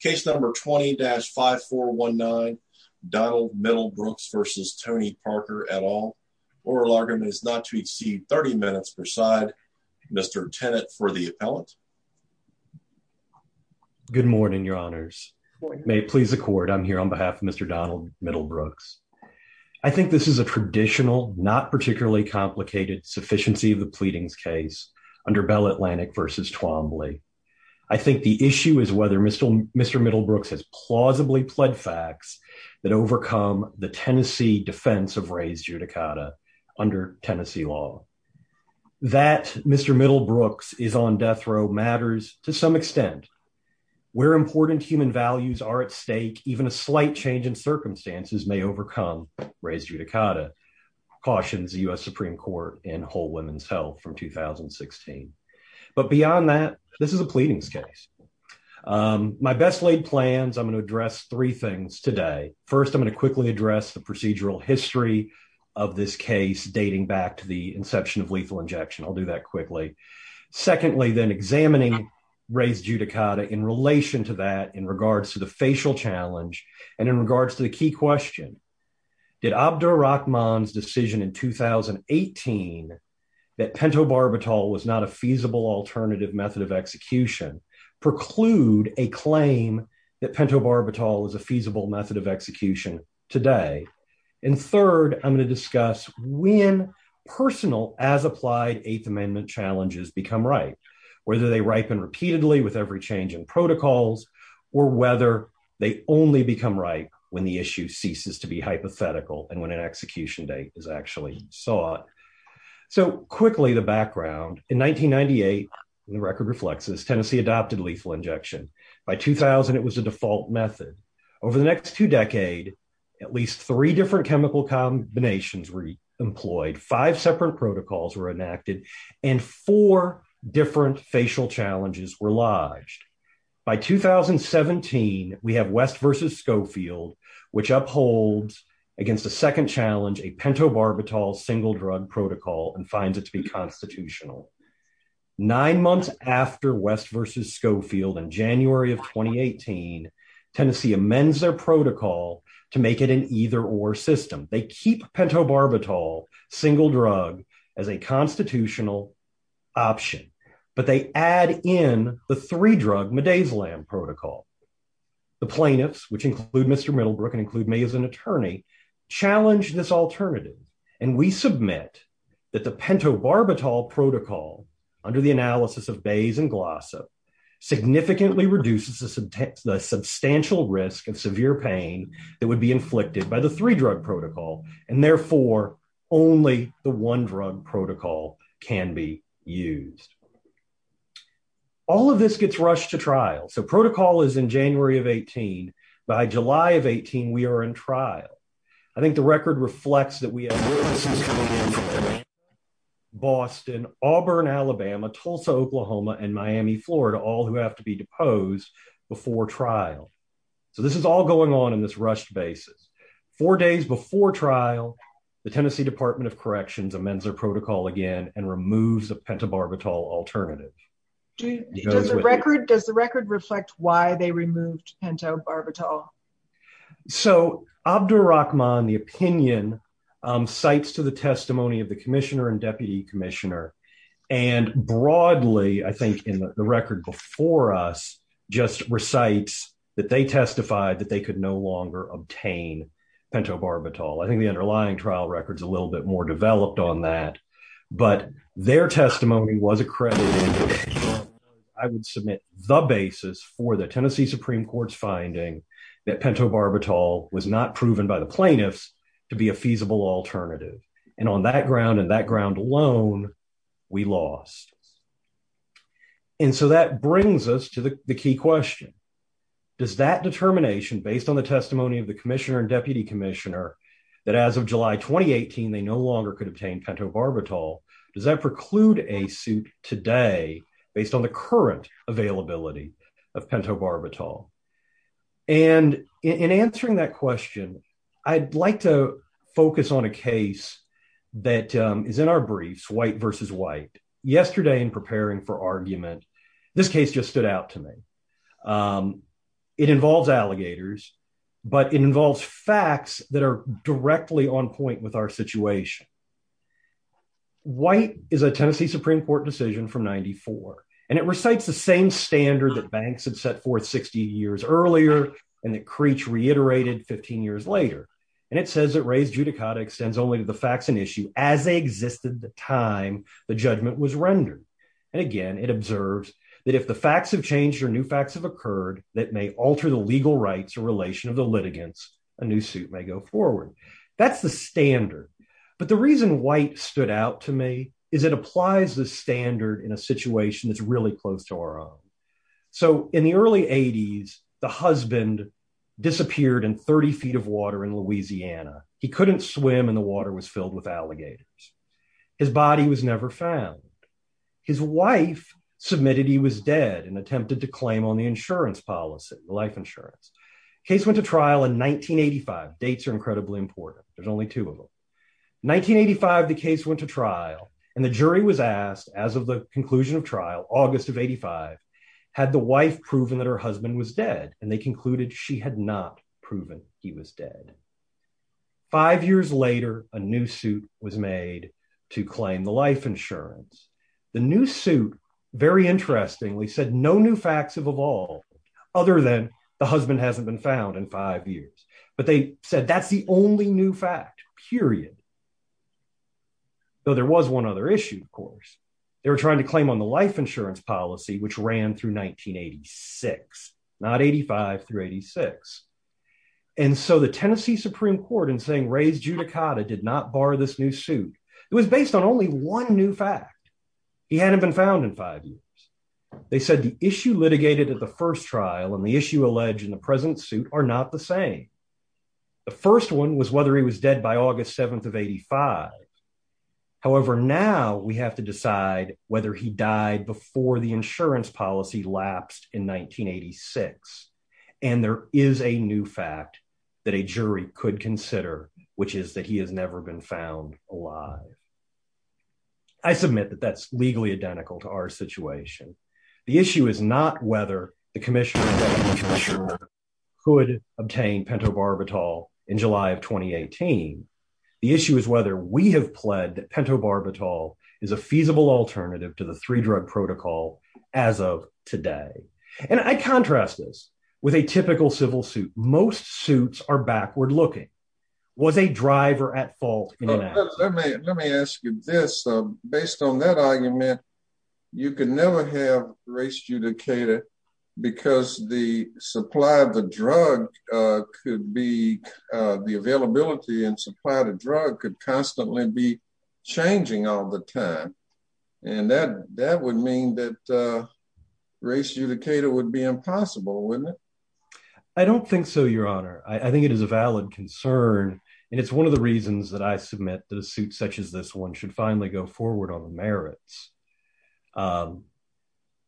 case number 20-5419 Donald Middlebrooks versus Tony Parker at all. Oral argument is not to exceed 30 minutes per side. Mr. Tenet for the appellant. Good morning, your honors. May it please the court. I'm here on behalf of Mr. Donald Middlebrooks. I think this is a traditional, not particularly complicated sufficiency of the pleadings case under Bell Atlantic versus Twombly. I think the issue is whether Mr. Middlebrooks has plausibly pled facts that overcome the Tennessee defense of Ray's judicata under Tennessee law. That Mr. Middlebrooks is on death row matters to some extent. Where important human values are at stake, even a slight change in circumstances may overcome Ray's judicata, cautions the U.S. Supreme Court in Whole Women's Health from 2016. But beyond that, this is a pleadings case. My best laid plans, I'm going to address three things today. First, I'm going to quickly address the procedural history of this case dating back to the inception of lethal injection. I'll do that quickly. Secondly, then examining Ray's judicata in relation to that in regards to the key question, did Abdur Rahman's decision in 2018 that pentobarbital was not a feasible alternative method of execution preclude a claim that pentobarbital is a feasible method of execution today? And third, I'm going to discuss when personal as applied Eighth Amendment challenges become right, whether they ripen repeatedly with every change in protocols or whether they only become right when the issue ceases to be hypothetical and when an execution date is actually sought. So quickly, the background. In 1998, the record reflects this, Tennessee adopted lethal injection. By 2000, it was a default method. Over the next two decades, at least three different chemical combinations were employed, five separate protocols were enacted, and four different facial challenges were lodged. By 2017, we have West versus Schofield, which upholds against a second challenge, a pentobarbital single drug protocol and finds it to be constitutional. Nine months after West versus Schofield in January of 2018, Tennessee amends their protocol to make it an either or system. They keep pentobarbital single drug as a constitutional option, but they add in the three drug midazolam protocol. The plaintiffs, which include Mr. Middlebrook and include me as an attorney, challenge this alternative. And we submit that the pentobarbital protocol under the analysis of Bayes and Glossa significantly reduces the substantial risk of severe pain that would be only the one drug protocol can be used. All of this gets rushed to trial. So protocol is in January of 18. By July of 18, we are in trial. I think the record reflects that we have Boston, Auburn, Alabama, Tulsa, Oklahoma, and Miami, Florida, all who have to be deposed before trial. So this is all going on in this rushed basis. Four days before trial, the Tennessee Department of Corrections amends their protocol again and removes the pentobarbital alternative. Does the record reflect why they removed pentobarbital? So Abdur Rahman, the opinion, cites to the testimony of the commissioner and deputy commissioner and broadly, I think in the record before us, just recites that they testified that they could no longer obtain pentobarbital. I think the underlying trial record is a little bit more developed on that. But their testimony was accredited. I would submit the basis for the Tennessee Supreme Court's finding that pentobarbital was not proven by the plaintiffs to be a feasible alternative. And on that ground and that ground alone, we lost. And so that brings us to the key question. Does that determination based on the testimony of the commissioner and deputy commissioner that as of July 2018, they no longer could obtain pentobarbital, does that preclude a suit today based on the current availability of pentobarbital? And in answering that question, I'd like to focus on a case that is in our briefs, yesterday in preparing for argument. This case just stood out to me. It involves alligators, but it involves facts that are directly on point with our situation. White is a Tennessee Supreme Court decision from 94, and it recites the same standard that banks had set forth 60 years earlier, and that Creech reiterated 15 years later. And it says judicata extends only to the facts and issue as they existed the time the judgment was rendered. And again, it observes that if the facts have changed or new facts have occurred that may alter the legal rights or relation of the litigants, a new suit may go forward. That's the standard. But the reason White stood out to me is it applies the standard in a situation that's really close to our own. So in the early 80s, the husband disappeared in 30 feet of water in Louisiana. He couldn't swim, and the water was filled with alligators. His body was never found. His wife submitted he was dead and attempted to claim on the insurance policy, the life insurance. Case went to trial in 1985. Dates are incredibly important. There's only two of them. 1985, the case went to trial, and the jury was asked as of the conclusion of trial, August of 85, had the wife proven that her husband was dead? And they concluded she had not proven he was dead. Five years later, a new suit was made to claim the life insurance. The new suit, very interestingly, said no new facts have evolved other than the husband hasn't been found in five years. But they said that's the only new fact, period. Though there was one other issue, of course. They were trying to claim on the life insurance policy which ran through 1986, not 85 through 86. And so the Tennessee Supreme Court in saying Reyes-Judicata did not bar this new suit, it was based on only one new fact. He hadn't been found in five years. They said the issue litigated at the first trial and the issue alleged in the present suit are not the same. The first one was whether he was dead by August 7th of 85. However, now we have to decide whether he died before the insurance policy lapsed in 1986. And there is a new fact that a jury could consider, which is that he has never been found alive. I submit that that's legally identical to our situation. The issue is not whether the commission could obtain pentobarbital in July of 2018. The issue is whether we have pled that pentobarbital is a feasible alternative to the three drug protocol as of today. And I contrast this with a typical civil suit. Most suits are backward looking. Was a driver at fault? Let me ask you this. Based on that argument, you can never have Reyes-Judicata because the supply of the drug could be, the availability and supply of the drug could constantly be changing all the time. And that would mean that Reyes-Judicata would be impossible, wouldn't it? I don't think so, Your Honor. I think it is a valid concern. And it's one of the reasons that I submit that a jury could consider.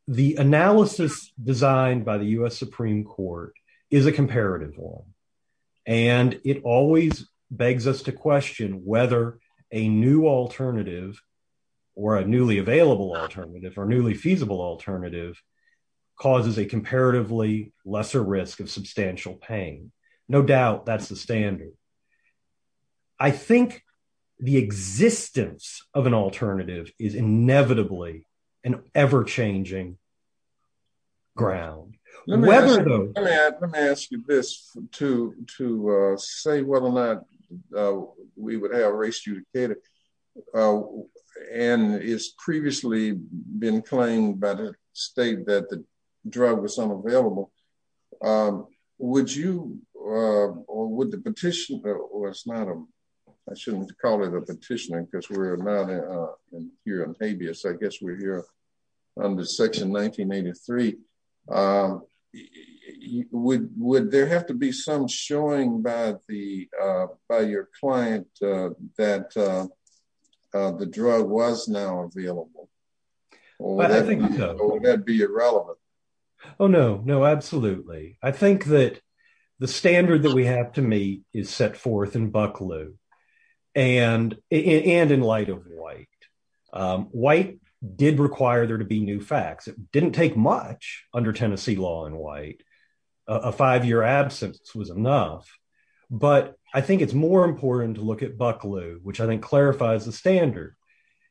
The analysis designed by the U.S. Supreme Court is a comparative one. And it always begs us to question whether a new alternative or a newly available alternative or newly feasible alternative causes a comparatively lesser risk of substantial pain. No doubt that's the standard. I think the existence of an alternative is inevitably an ever-changing ground. Let me ask you this to say whether or not we would have Reyes-Judicata and it's previously been claimed by the state that the drug was unavailable. I shouldn't call it a petitioning because we're not here in habeas. I guess we're here under Section 1983. Would there have to be some showing by your client that the drug was now available? Or would that be irrelevant? Oh no, no, absolutely. I think that the standard that we have to meet is set forth in Bucklew and in light of White. White did require there to be new facts. It didn't take much under Tennessee law in White. A five-year absence was the standard.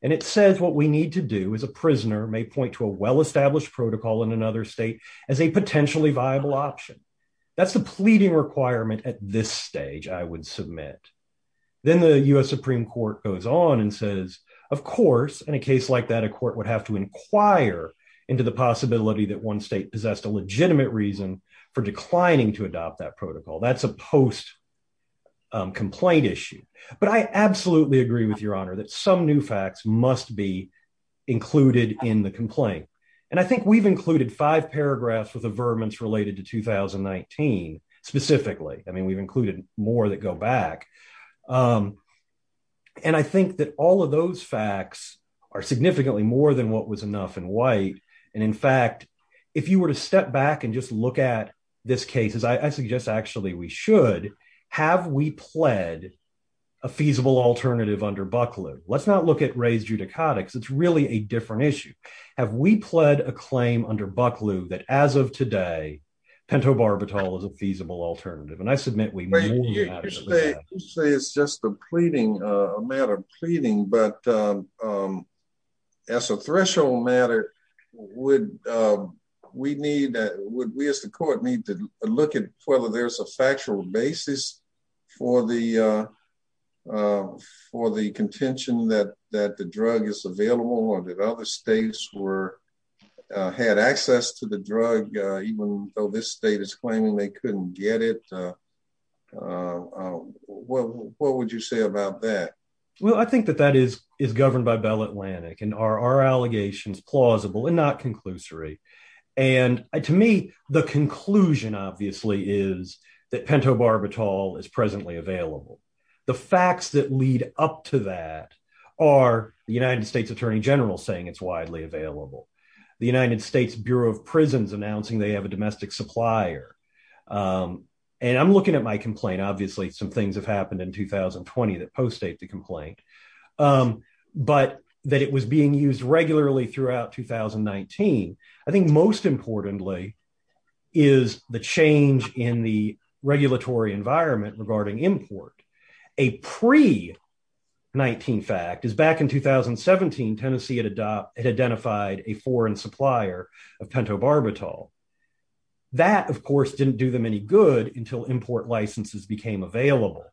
And it says what we need to do as a prisoner may point to a well-established protocol in another state as a potentially viable option. That's the pleading requirement at this stage I would submit. Then the U.S. Supreme Court goes on and says, of course, in a case like that, a court would have to inquire into the possibility that one state possessed a legitimate reason for declining to adopt that protocol. That's a post-complaint issue. But I absolutely agree with your honor that some new facts must be included in the complaint. And I think we've included five paragraphs with averments related to 2019 specifically. I mean, we've included more that go back. And I think that all of those facts are significantly more than what was enough in White. And in fact, if you were to step back and look at this case, I suggest actually we should. Have we pled a feasible alternative under Bucklew? Let's not look at raised judicotics. It's really a different issue. Have we pled a claim under Bucklew that as of today, pentobarbital is a feasible alternative? And I submit we have. You say it's just a pleading, a matter of pleading, but as a threshold matter, would we need that? Would we as the court need to look at whether there's a factual basis for the contention that the drug is available or that other states were had access to the drug, even though this state is claiming they couldn't get it? What would you say about that? Well, I think that that is governed by Bell Atlantic and our allegations plausible and not conclusory. And to me, the conclusion obviously is that pentobarbital is presently available. The facts that lead up to that are the United States Attorney General saying it's widely available. The United States Bureau of Prisons announcing they have a domestic supplier. And I'm looking at my complaint. Obviously, some things have happened in 2020 that postdate the complaint, but that it was being used regularly throughout 2019. I think most importantly is the change in the regulatory environment regarding import. A pre-19 fact is back in 2017, Tennessee had identified a foreign supplier of pentobarbital. That, of course, didn't do them any good until import licenses became available.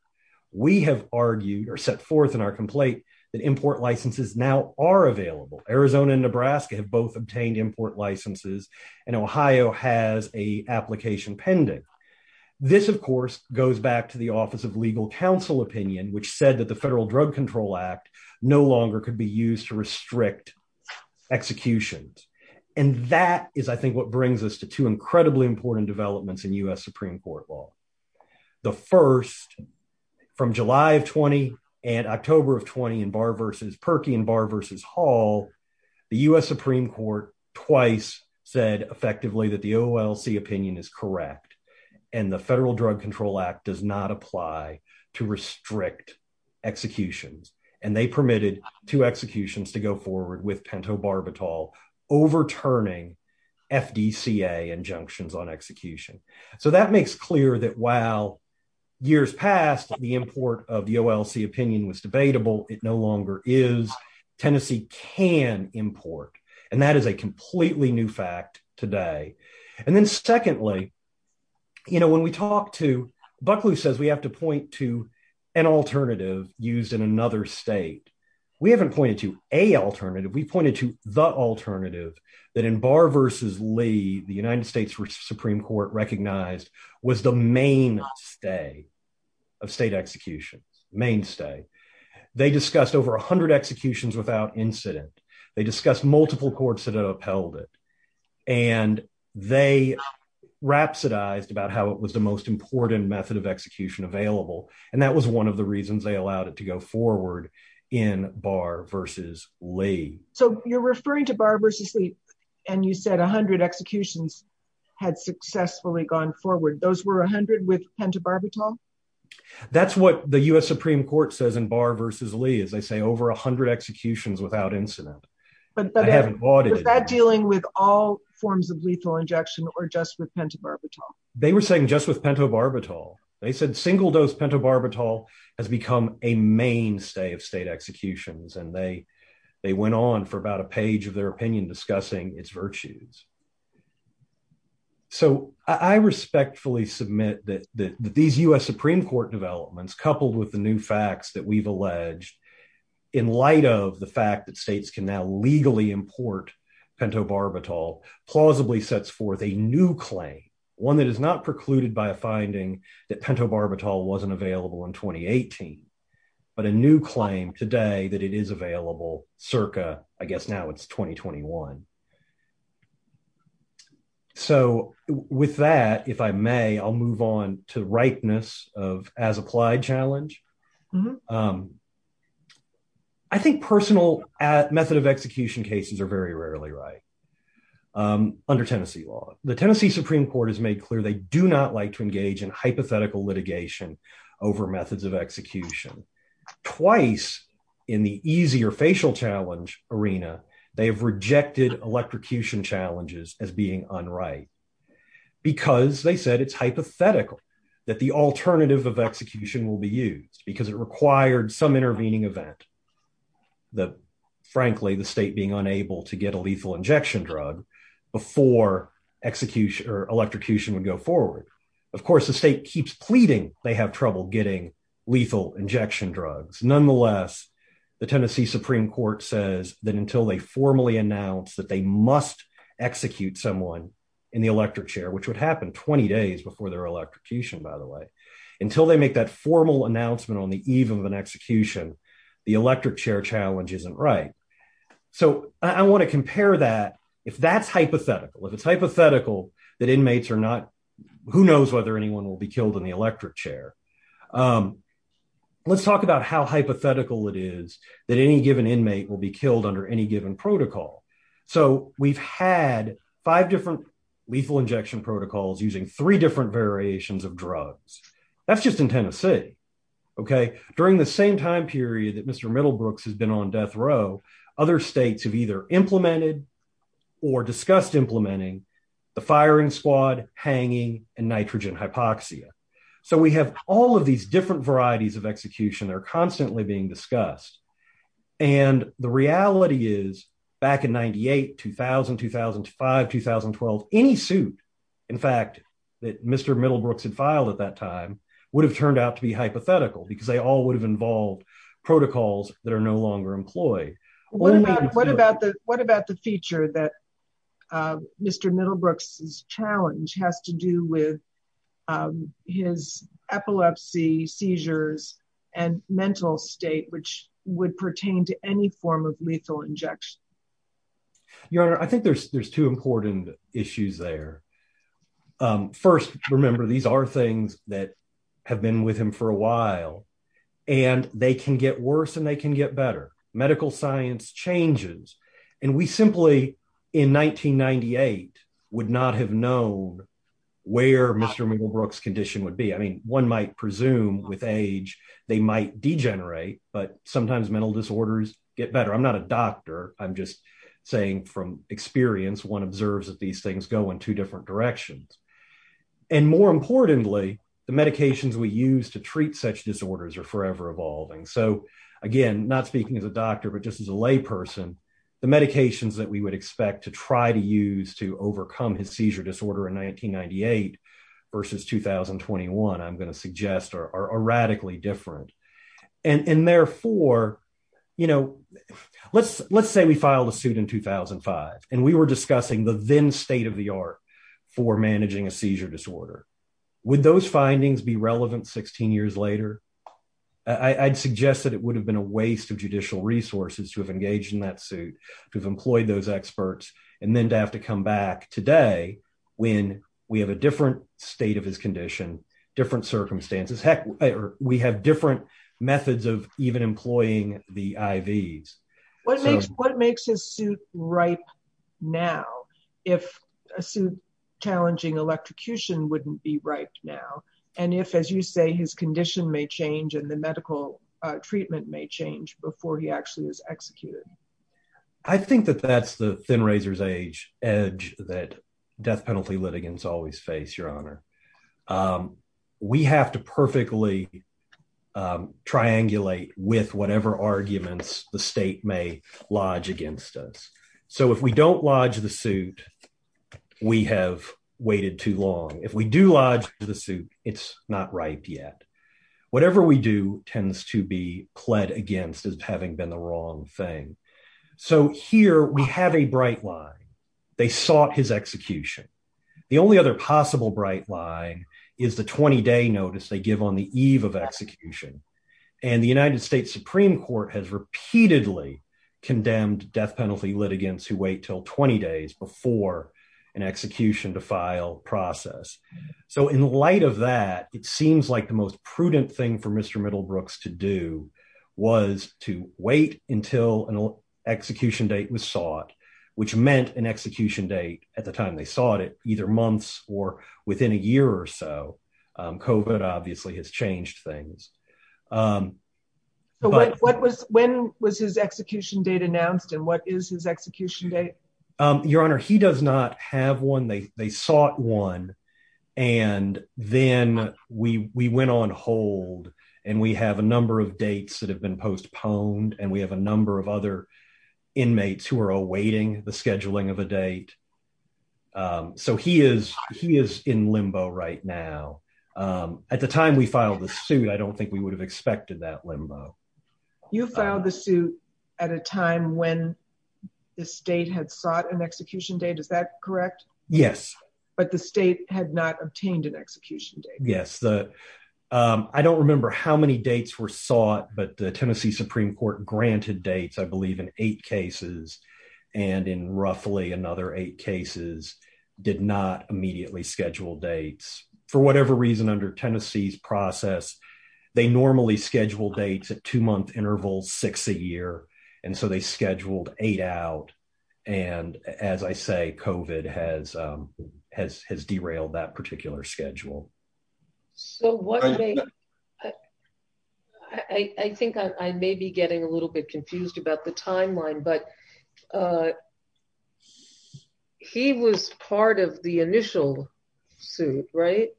We have argued or set forth in our complaint that import licenses now are available. Arizona and Nebraska have both obtained import licenses, and Ohio has a application pending. This, of course, goes back to the Office of Legal Counsel opinion, which said that the Federal Drug Control Act no longer could be used to restrict executions. And that is, I think, what brings us to two incredibly important developments in U.S. Supreme Court law. The first, from July of 20 and October of 20 in Barr v. Perky and Barr v. Hall, the U.S. Supreme Court twice said effectively that the OLC opinion is correct, and the Federal Drug Control Act does not apply to restrict executions. And they permitted two executions to go forward with pentobarbital, overturning FDCA injunctions on execution. So that makes clear that while years past the import of the OLC opinion was debatable, it no longer is. Tennessee can import, and that is a completely new fact today. And then secondly, you know, when we talk to, Buckley says we have to point to an alternative used in another state. We haven't pointed to a alternative. We pointed to the alternative that in Barr v. Lee, the United States Supreme Court recognized was the mainstay of state executions, mainstay. They discussed over 100 executions without incident. They discussed multiple courts that upheld it. And they rhapsodized about how it was the most important method of execution available. And that was one of the reasons they allowed it to go forward in Barr v. Lee. So you're referring to Barr v. Lee, and you said 100 executions had successfully gone forward. Those were 100 with pentobarbital? That's what the U.S. Supreme Court says in Barr v. Lee, is they say over 100 executions without incident. I haven't bought it. Was that dealing with all forms of lethal injection or just with pentobarbital? They were saying just with pentobarbital. They said single-dose pentobarbital has become a mainstay of state executions, and they went on for about a page of their opinion discussing its virtues. So I respectfully submit that these U.S. Supreme Court developments, coupled with the new facts that we've alleged, in light of the fact that states can now legally import pentobarbital, plausibly sets forth a new claim, one that is not precluded by a finding that pentobarbital wasn't available in 2018, but a new claim today that it is available circa, I guess, now it's 2021. So with that, if I may, I'll move on to the ripeness of as-applied challenge. I think personal method of execution cases are very rarely right under Tennessee law. The Tennessee Supreme Court has made clear they do not like to engage in hypothetical litigation over methods of execution. Twice in the easier facial challenge arena, they have rejected electrocution challenges as being unright, because they said it's hypothetical that the alternative of execution will be used, because it required some intervening event, that frankly, the state being unable to get a lethal injection drug before electrocution would go forward. Of course, the state keeps pleading they have trouble getting lethal injection drugs. Nonetheless, the Tennessee Supreme Court says that until they formally announce that they must execute someone in the electric chair, which would happen 20 days before their electrocution, by the way, until they make that formal announcement on the eve of an execution, the electric chair challenge isn't right. So I want to compare that, if that's hypothetical, if it's hypothetical that inmates are not, who knows whether anyone will be killed in the electric chair. Let's talk about how hypothetical it is that any given inmate will be killed under any given protocol. So we've had five different lethal injection protocols using three different variations of drugs. That's just in Tennessee, okay? During the same time period that Mr. Middlebrooks has been on death row, other states have either implemented or discussed implementing the firing squad, hanging, and nitrogen hypoxia. So we have all of these different varieties of execution that are constantly being discussed. And the reality is back in 98, 2000, 2005, 2012, any suit, in fact, that Mr. Middlebrooks had filed at that time would have turned out to be hypothetical because they all would have involved protocols that are no longer employed. What about the feature that Mr. Middlebrooks' challenge has to do with his epilepsy, seizures, and mental state, which would pertain to any form of lethal injection? Your Honor, I think there's two important issues there. First, remember, these are things that have been with him for a while, and they can get worse and they can get better. Medical science changes. And we simply, in 1998, would not have known where Mr. Middlebrooks' condition would be. I mean, one might presume with age they might degenerate, but sometimes mental disorders get better. I'm not a doctor. I'm just saying from experience, one observes that things go in two different directions. And more importantly, the medications we use to treat such disorders are forever evolving. So again, not speaking as a doctor, but just as a lay person, the medications that we would expect to try to use to overcome his seizure disorder in 1998 versus 2021, I'm going to suggest are radically different. And therefore, you know, let's say we And we were discussing the then state-of-the-art for managing a seizure disorder. Would those findings be relevant 16 years later? I'd suggest that it would have been a waste of judicial resources to have engaged in that suit, to have employed those experts, and then to have to come back today when we have a different state of his condition, different circumstances. Heck, we have different methods of even employing the IVs. What makes his suit ripe now if a suit challenging electrocution wouldn't be right now? And if, as you say, his condition may change and the medical treatment may change before he actually is executed? I think that that's the way we typically triangulate with whatever arguments the state may lodge against us. So if we don't lodge the suit, we have waited too long. If we do lodge the suit, it's not right yet. Whatever we do tends to be pled against as having been the wrong thing. So here we have a bright line. They sought his execution. The only other possible bright line is the 20-day notice they on the eve of execution. And the United States Supreme Court has repeatedly condemned death penalty litigants who wait till 20 days before an execution to file process. So in light of that, it seems like the most prudent thing for Mr. Middlebrooks to do was to wait until an execution date was sought, which meant an execution date at the time they sought it, either months or within a year or so. COVID obviously has changed things. So when was his execution date announced and what is his execution date? Your Honor, he does not have one. They sought one and then we went on hold and we have a number of dates that have been postponed and we have a number of other dates that are in limbo right now. At the time we filed the suit, I don't think we would have expected that limbo. You filed the suit at a time when the state had sought an execution date. Is that correct? Yes. But the state had not obtained an execution date. Yes. I don't remember how many dates were sought, but the Tennessee Supreme Court granted dates, I believe in eight cases and in roughly another eight cases did not immediately schedule dates. For whatever reason, under Tennessee's process, they normally schedule dates at two-month intervals, six a year, and so they scheduled eight out. And as I say, COVID has derailed that particular schedule. So I think I may be getting a little bit confused about the timeline, but he was part of the initial suit, right?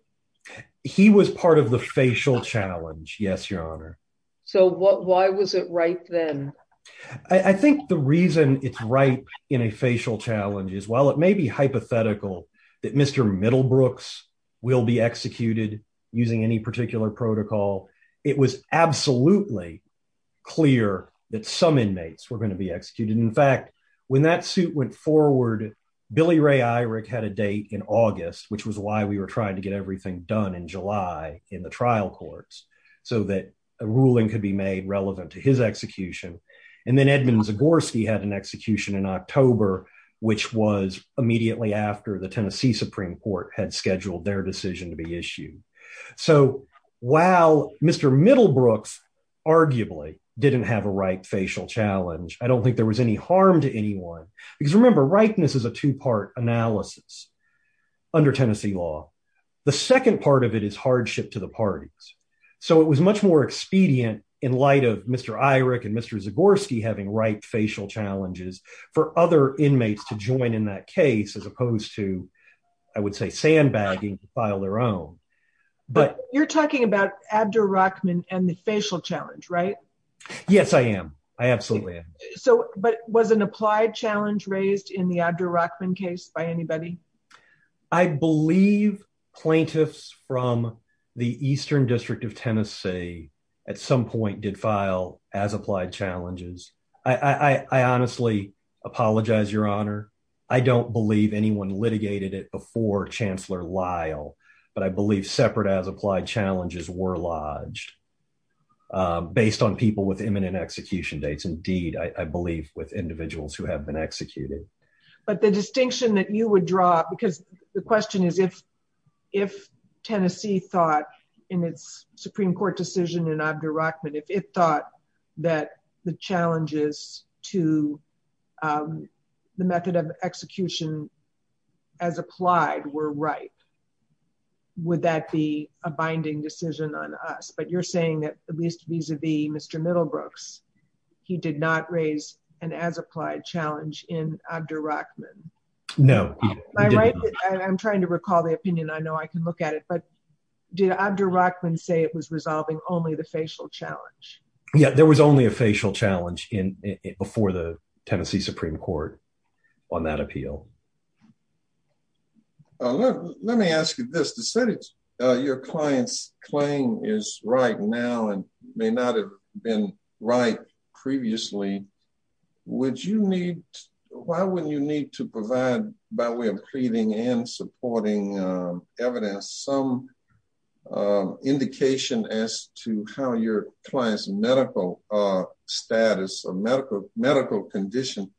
He was part of the facial challenge. Yes, Your Honor. So why was it right then? I think the reason it's right in a facial challenge is while it using any particular protocol, it was absolutely clear that some inmates were going to be executed. In fact, when that suit went forward, Billy Ray Eyrick had a date in August, which was why we were trying to get everything done in July in the trial courts so that a ruling could be made relevant to his execution. And then Edmund Zagorski had an execution in October, which was So while Mr. Middlebrooks arguably didn't have a right facial challenge, I don't think there was any harm to anyone. Because remember, rightness is a two-part analysis under Tennessee law. The second part of it is hardship to the parties. So it was much more expedient in light of Mr. Eyrick and Mr. Zagorski having right facial challenges for other inmates to join in that But you're talking about Abderrachman and the facial challenge, right? Yes, I am. I absolutely am. So but was an applied challenge raised in the Abderrachman case by anybody? I believe plaintiffs from the Eastern District of Tennessee at some point did file as applied challenges. I honestly apologize, Your Honor. I don't believe anyone litigated it before Chancellor Lyle. But I believe separate as applied challenges were lodged based on people with imminent execution dates. Indeed, I believe with individuals who have been executed. But the distinction that you would draw because the question is if Tennessee thought in its Supreme Court decision in Abderrachman, if it thought that the challenges to the method of right, would that be a binding decision on us? But you're saying that at least vis-a-vis Mr. Middlebrooks, he did not raise an as applied challenge in Abderrachman? No. I'm trying to recall the opinion. I know I can look at it. But did Abderrachman say it was resolving only the facial challenge? Yeah, there was only a facial challenge in before the Tennessee Supreme Court on that appeal. Let me ask you this. Your client's claim is right now and may not have been right previously. Why would you need to provide by way of pleading and supporting evidence some indication as to how your client's medical status or medical condition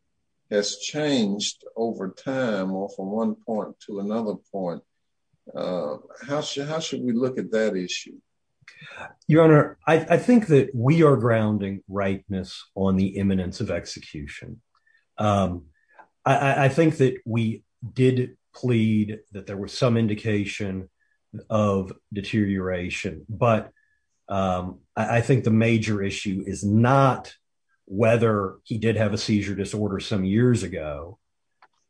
has changed over time or from one point to another point? How should we look at that issue? Your Honor, I think that we are grounding rightness on the imminence of execution. I think that we did plead that there was some indication of deterioration. But I think the years ago,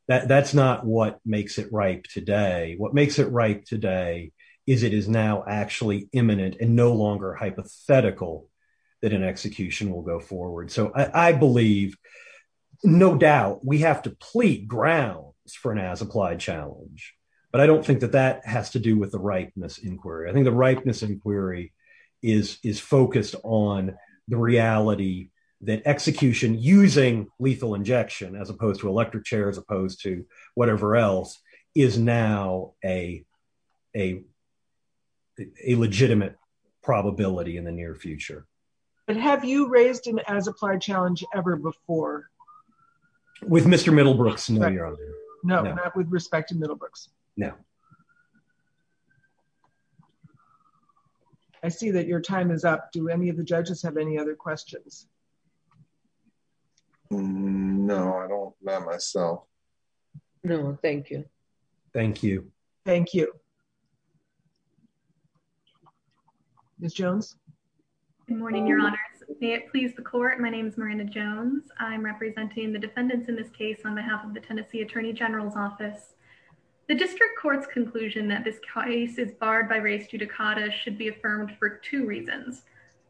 that's not what makes it right today. What makes it right today is it is now actually imminent and no longer hypothetical that an execution will go forward. So I believe, no doubt, we have to plead grounds for an as applied challenge. But I don't think that that has to do with the rightness inquiry. I think the rightness inquiry is focused on the reality that execution using lethal injection, as opposed to electric chair, as opposed to whatever else, is now a legitimate probability in the near future. But have you raised an as applied challenge ever before? With Mr. Middlebrooks, no, Your Honor. No, not with respect to Middlebrooks. No. I see that your time is up. Do any of the judges have any other questions? No, I don't, not myself. No, thank you. Thank you. Thank you. Ms. Jones. Good morning, Your Honors. May it please the court. My name is Miranda Jones. I'm representing the defendants in this case on behalf of the Tennessee Attorney General's Office. The district court's conclusion that this case is barred by race judicata should be affirmed for two reasons.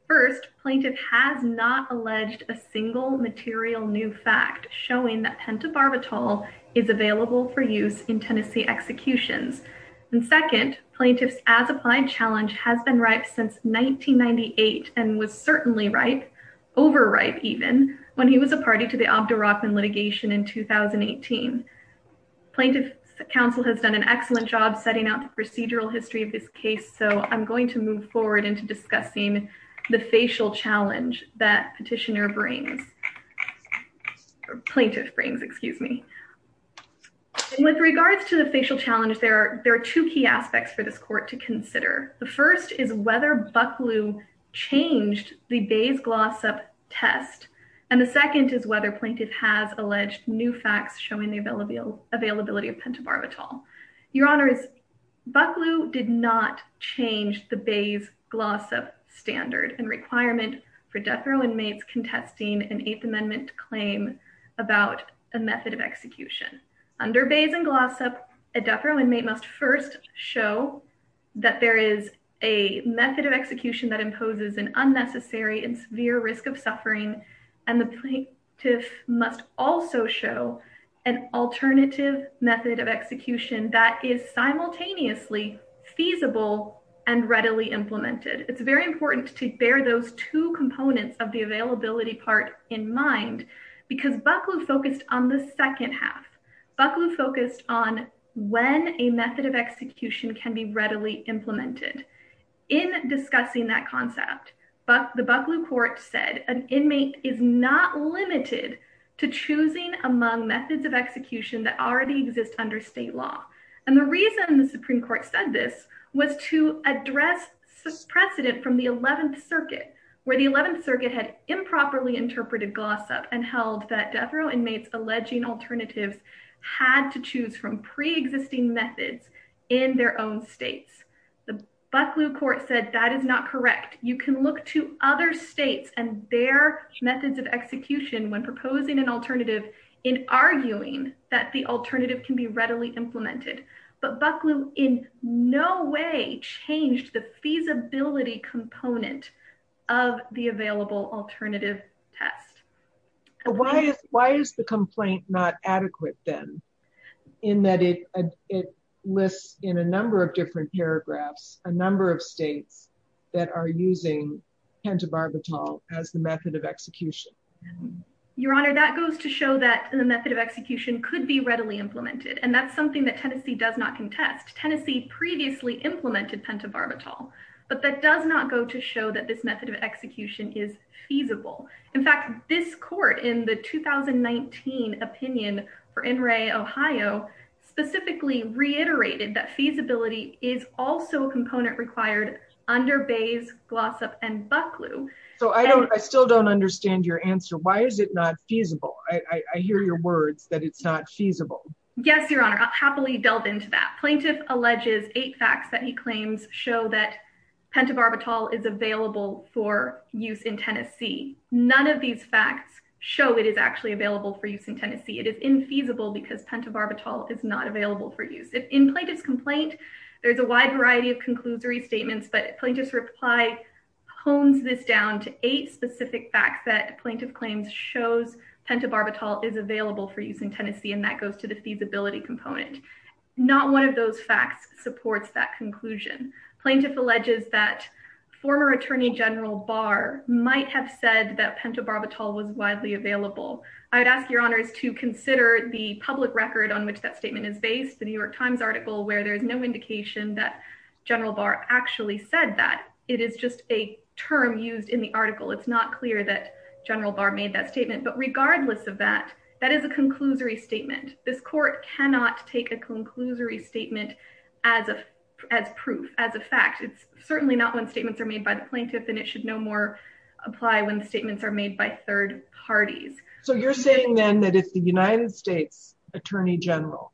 First, plaintiff has not alleged a single material new fact showing that pentobarbital is available for use in Tennessee executions. And second, plaintiff's as applied challenge has been ripe since 1998 and was certainly ripe, overripe even, when he was a party to the Obdurachman litigation in 2018. Plaintiff's counsel has done an excellent job setting out procedural history of this case, so I'm going to move forward into discussing the facial challenge that petitioner brings, or plaintiff brings, excuse me. With regards to the facial challenge, there are two key aspects for this court to consider. The first is whether Bucklew changed the Bayes-Glossop test. And the second is whether plaintiff has alleged new facts showing the availability of pentobarbital. Your Honors, Bucklew did not change the Bayes-Glossop standard and requirement for death row inmates contesting an Eighth Amendment claim about a method of execution. Under Bayes and Glossop, a death row inmate must first show that there is a method of execution that imposes an unnecessary and severe risk of suffering, and the plaintiff must also show an alternative method of execution that is simultaneously feasible and readily implemented. It's very important to bear those two components of the availability part in mind, because Bucklew focused on the second half. Bucklew focused on when a method of execution can be chosen among methods of execution that already exist under state law. And the reason the Supreme Court said this was to address precedent from the 11th Circuit, where the 11th Circuit had improperly interpreted Glossop and held that death row inmates alleging alternatives had to choose from pre-existing methods in their own states. The Bucklew Court said that is not correct. You can look to other states and their methods of execution when proposing an alternative in arguing that the alternative can be readily implemented. But Bucklew in no way changed the feasibility component of the available alternative test. Why is the complaint not adequate then, in that it lists in a number of different paragraphs a number of states that are using pent-a-barbital as the method of execution? Your Honor, that goes to show that the method of execution could be readily implemented, and that's something that Tennessee does not contest. Tennessee previously implemented pent-a-barbital, but that does not go to show that this method of execution is feasible. In fact, this Court in the 2019 opinion for NRA Ohio specifically reiterated that feasibility is also a component required under Bayes, Glossop, and Bucklew. So I don't, I still don't understand your answer. Why is it not feasible? I hear your words that it's not feasible. Yes, Your Honor, I'll happily delve into that. Plaintiff alleges eight facts that he claims show that pent-a-barbital is available for use in Tennessee. None of these facts show it is actually available for use in Tennessee. It is infeasible because pent-a-barbital is not available for use. In Plaintiff's complaint, there's a wide variety of conclusory statements, but Plaintiff's reply hones this down to eight specific facts that Plaintiff claims shows pent-a-barbital is available for use in Tennessee, and that goes to the feasibility component. Not one of those facts supports that conclusion. Plaintiff alleges that former Attorney General Barr might have said that pent-a-barbital was widely available. I would ask Your Honors to consider the public record on which that statement is based, the New York Times article, where there is no indication that General Barr actually said that. It is just a term used in the article. It's not clear that General Barr made that statement, but regardless of that, that is a conclusory statement. This Court cannot take a conclusory statement as a, as proof, as a fact. It's certainly not when statements are made by the Plaintiff, and it should no more apply when statements are made by third parties. You're saying then that if the United States Attorney General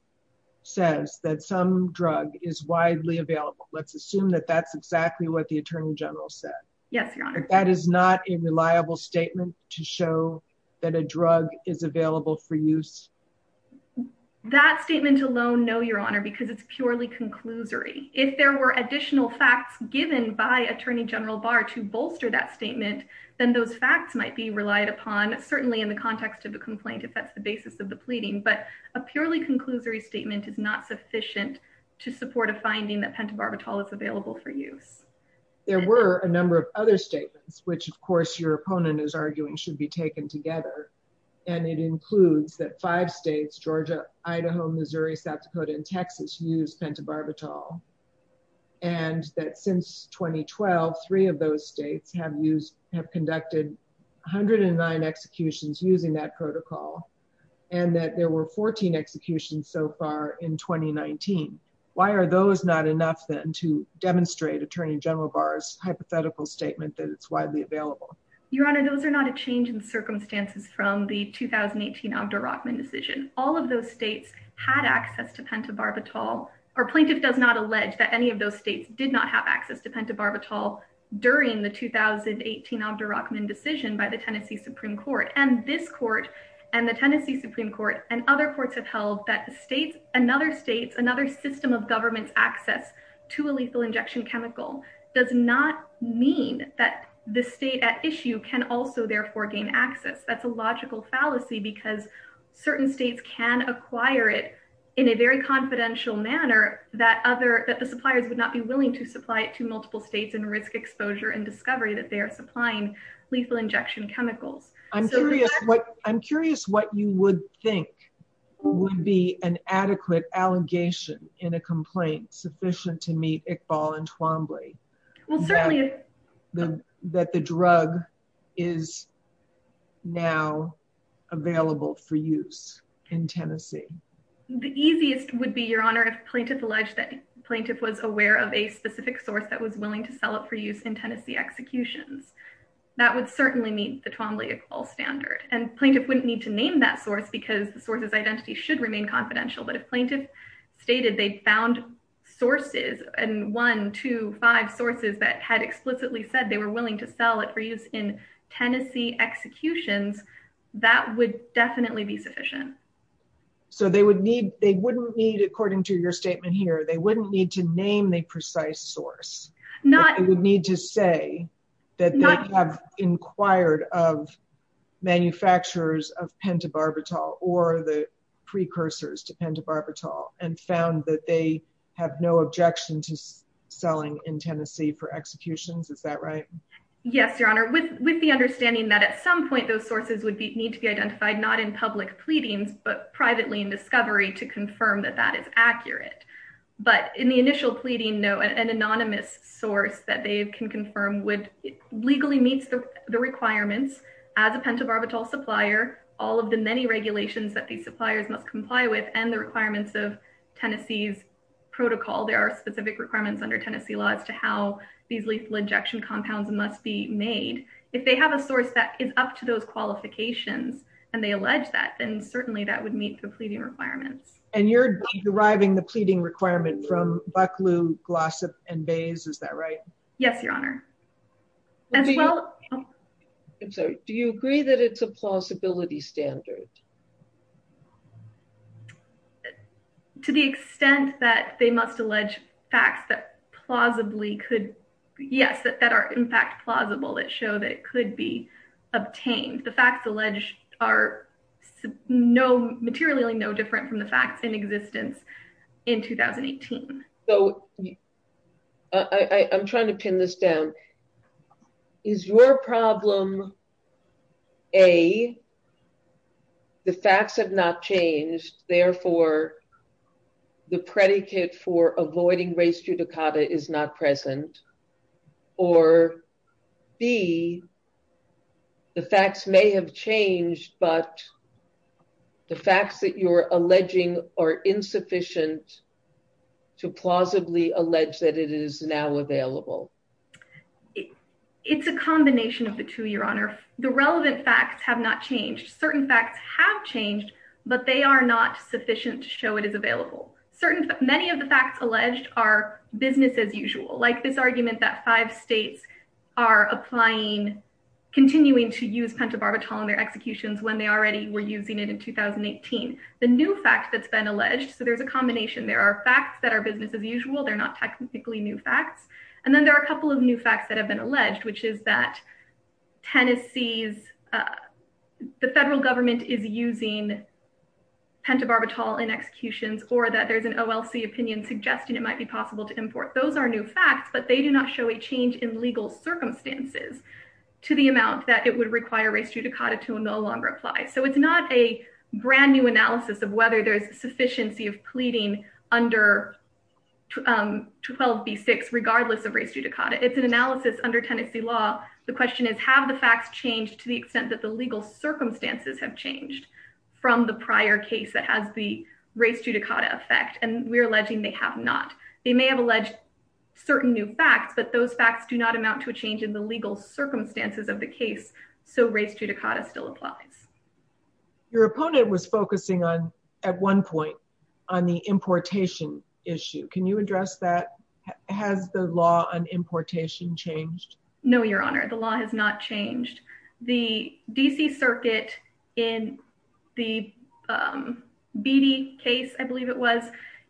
says that some drug is widely available, let's assume that that's exactly what the Attorney General said. Yes, Your Honor. That is not a reliable statement to show that a drug is available for use? That statement alone, no, Your Honor, because it's purely conclusory. If there were additional facts given by Attorney General Barr to bolster that statement, then those facts might be relied upon, certainly in the context of the complaint, if that's the basis of the pleading, but a purely conclusory statement is not sufficient to support a finding that pentobarbital is available for use. There were a number of other statements, which, of course, your opponent is arguing should be taken together, and it includes that five states, Georgia, Idaho, Missouri, South Dakota, and Texas use pentobarbital, and that since 2012, three of those states have conducted 109 executions using that protocol, and that there were 14 executions so far in 2019. Why are those not enough, then, to demonstrate Attorney General Barr's hypothetical statement that it's widely available? Your Honor, those are not a change in circumstances from the 2018 Ogda Rockman decision. All of those states had access to pentobarbital, or plaintiff does not allege that any of those states did not have access to pentobarbital during the 2018 Ogda Rockman decision by the Tennessee Supreme Court, and this court and the Tennessee Supreme Court and other courts have held that another state's, another system of government's access to a lethal injection chemical does not mean that the state at issue can also therefore gain access. That's a logical fallacy because certain states can acquire it in a very confidential manner that other, that the suppliers would not be willing to supply it to multiple states and risk exposure and discovery that they are supplying lethal injection chemicals. I'm curious what, I'm curious what you would think would be an adequate allegation in a complaint sufficient to meet Iqbal and Twombly. Well, certainly. That the drug is now available for use in Tennessee. The easiest would be, Your Honor, if plaintiff alleged that plaintiff was aware of a specific source that was willing to sell it for use in Tennessee executions. That would certainly meet the Twombly Iqbal standard, and plaintiff wouldn't need to name that source because the source's identity should remain confidential, but if plaintiff stated they found sources and one, two, five sources that had explicitly said they were willing to sell it for use in Tennessee executions, that would definitely be sufficient. So they would need, they wouldn't need, according to your statement here, they wouldn't need to name the precise source. Not. They would need to say that they have inquired of manufacturers of pentobarbital or the precursors to pentobarbital. And found that they have no objection to selling in Tennessee for executions. Is that right? Yes, Your Honor, with the understanding that at some point those sources would need to be identified, not in public pleadings, but privately in discovery to confirm that that is accurate. But in the initial pleading, an anonymous source that they can confirm would, legally meets the requirements as a pentobarbital supplier, all of the many regulations that suppliers must comply with and the requirements of Tennessee's protocol. There are specific requirements under Tennessee law as to how these lethal injection compounds must be made. If they have a source that is up to those qualifications and they allege that, then certainly that would meet the pleading requirements. And you're deriving the pleading requirement from Bucklew, Glossop, and Bayes. Is that right? Yes, Your Honor. I'm sorry. Do you agree that it's a plausibility standard? To the extent that they must allege facts that plausibly could, yes, that are in fact plausible, that show that it could be obtained. The facts alleged are materially no different from the facts in existence in 2018. So I'm trying to pin this down. Is your problem, A, the facts have not changed, therefore the predicate for avoiding race judicata is not present, or B, the facts may have changed, but the facts that you're alleging are insufficient to plausibly allege that it is now available? It's a combination of the two, Your Honor. The relevant facts have not changed. Certain facts have changed, but they are not sufficient to show it is available. Many of the facts alleged are business as usual, like this argument that five states are applying, continuing to use pentobarbital in their executions when they already were using it in 2018. The new fact that's been alleged, so there's a combination. There are facts that are business as usual. They're not technically new facts. And then there are a couple of new facts that have been alleged, which is that Tennessee's, the federal government is using pentobarbital in executions, or that there's an OLC opinion suggesting it might be possible to import. Those are new facts, but they do not show a change in legal circumstances to the amount that it would require race judicata to no longer apply. So it's not a brand new analysis of whether there's sufficiency of pleading under 12b6 regardless of race judicata. It's an analysis under Tennessee law. The question is, have the facts changed to the extent that the legal circumstances have changed from the prior case that has the race judicata effect? And we're alleging they have not. They may have alleged certain new facts, but those facts do not amount to a change in the legal circumstances of the case. So race judicata still applies. Your opponent was focusing on, at one point, on the importation issue. Can you address that? Has the law on importation changed? No, Your Honor. The law has not changed. The D.C. circuit in the Beattie case, I believe it was,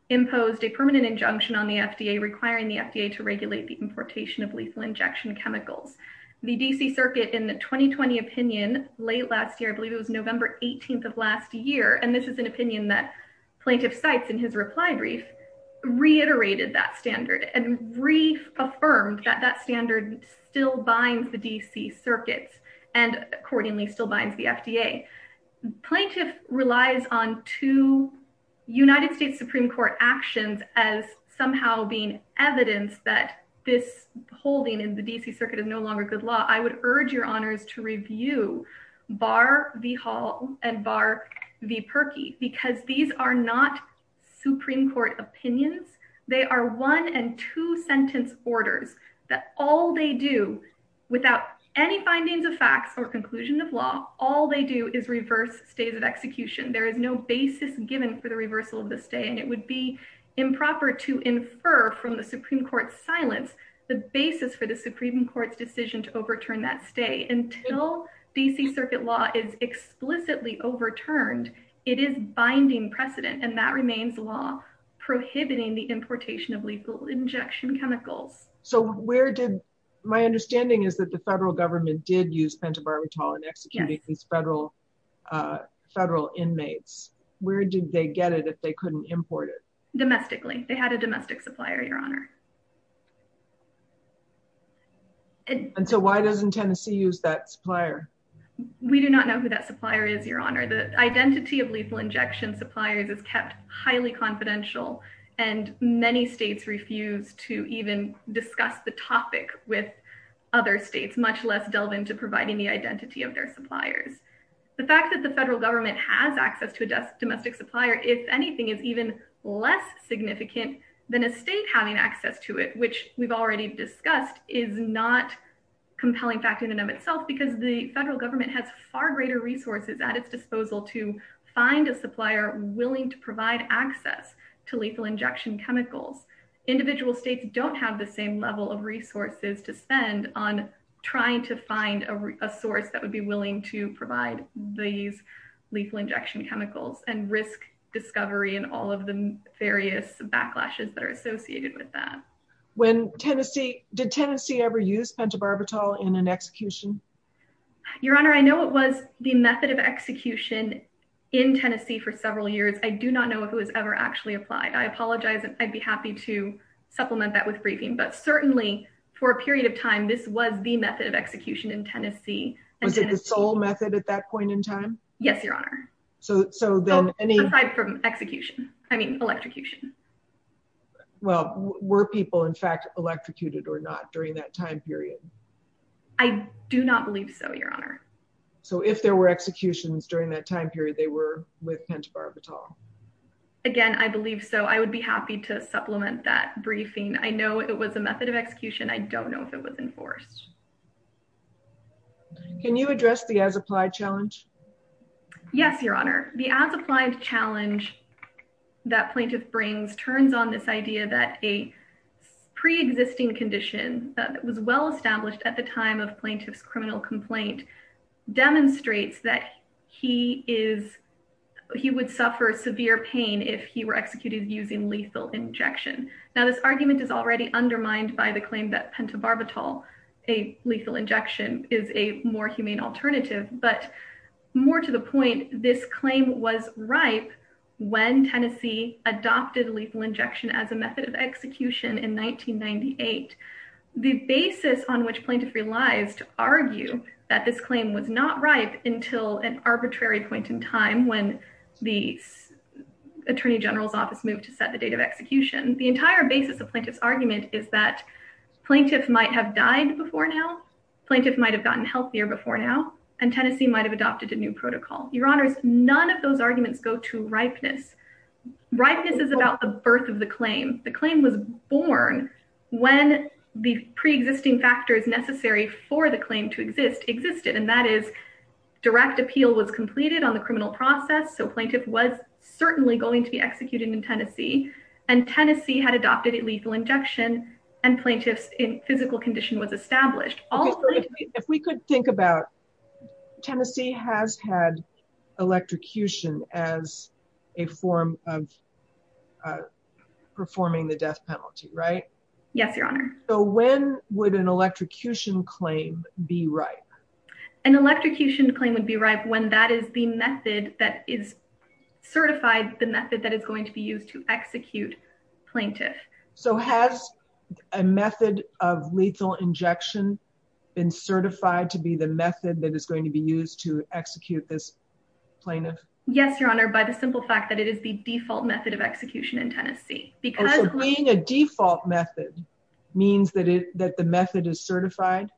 imposed a permanent injunction on the FDA requiring the FDA to regulate the importation of lethal injection chemicals. The D.C. circuit in the 2020 opinion, late last year, I believe it was November 18th of last year, and this is an opinion that Plaintiff Sykes, in his reply brief, reiterated that standard and reaffirmed that that standard still binds the D.C. circuits and accordingly still binds the FDA. Plaintiff relies on two United States Supreme Court actions as somehow being evidence that this holding in the D.C. circuit is no longer good law. I would urge Your Honors to review Bar v. Hall and Bar v. Perkey because these are not Supreme Court opinions. They are one and two sentence orders that all they do, without any findings of facts or conclusion of law, all they do is reverse stays of execution. There is no basis given for the reversal of the stay, and it would be improper to infer from the Supreme Court's silence the basis for the Supreme Court's decision to overturn that stay. Until D.C. circuit law is explicitly overturned, it is binding precedent, and that remains law, prohibiting the importation of lethal injection chemicals. So where did, my understanding is that the federal government did use pentobarbital in executing these federal inmates. Where did they get it if they couldn't import it? Domestically. They had a domestic supplier, Your Honor. And so why doesn't Tennessee use that supplier? We do not know who that supplier is, Your Honor. The identity of lethal injection suppliers is kept highly confidential, and many states refuse to even discuss the topic with other states, much less delve into providing the identity of their suppliers. The fact that the federal government has access to a domestic supplier, if anything, is even less significant than a state having access to it, which we've already discussed is not compelling fact in and of itself because the federal government has far greater resources at its disposal to find a supplier willing to provide access to lethal injection chemicals. Individual states don't have the same level of resources to spend on trying to find a source that would be willing to provide these lethal injection chemicals and risk discovery and all of the various backlashes that are associated with that. When Tennessee, did Tennessee ever use pentobarbital in an execution? Your Honor, I know it was the method of execution in Tennessee for several years. I do not know if it was ever actually applied. I apologize. I'd be happy to supplement that with briefing, but certainly for a period of time, this was the method of execution in Tennessee. Was it the sole method at that point in time? Yes, Your Honor. So, so then any... Aside from execution, I mean, electrocution. Well, were people in fact electrocuted or not during that time period? I do not believe so, Your Honor. So if there were executions during that time period, they were with pentobarbital? Again, I believe so. I would be happy to supplement that briefing. I know it was a method of execution. I don't know if it was enforced. Can you address the as-applied challenge? Yes, Your Honor. The as-applied challenge that plaintiff brings turns on this idea that a pre-existing condition that was well-established at the time of plaintiff's criminal complaint demonstrates that he would suffer severe pain if he were executed using lethal injection. Now, this argument is already undermined by the claim that pentobarbital, a lethal injection, is a more humane alternative. But more to the point, this claim was ripe when Tennessee adopted lethal injection as method of execution in 1998. The basis on which plaintiff relies to argue that this claim was not ripe until an arbitrary point in time when the Attorney General's office moved to set the date of execution, the entire basis of plaintiff's argument is that plaintiff might have died before now, plaintiff might have gotten healthier before now, and Tennessee might have adopted a new protocol. Your Honors, none of those arguments go to ripeness. Ripeness is about the birth of the claim. The claim was born when the pre-existing factors necessary for the claim to exist, existed, and that is direct appeal was completed on the criminal process, so plaintiff was certainly going to be executed in Tennessee, and Tennessee had adopted a lethal injection and plaintiff's physical condition was established. If we could think about, Tennessee has had electrocution as a form of performing the death penalty, right? Yes, Your Honor. So when would an electrocution claim be ripe? An electrocution claim would be ripe when that is the method that is certified, the method that is going to be used to execute plaintiff. So has a method of lethal injection been certified to be the method that is going to be used to execute this plaintiff? Yes, Your Honor, by the simple fact that it is the default method of execution in Tennessee. Being a default method means that the method is certified?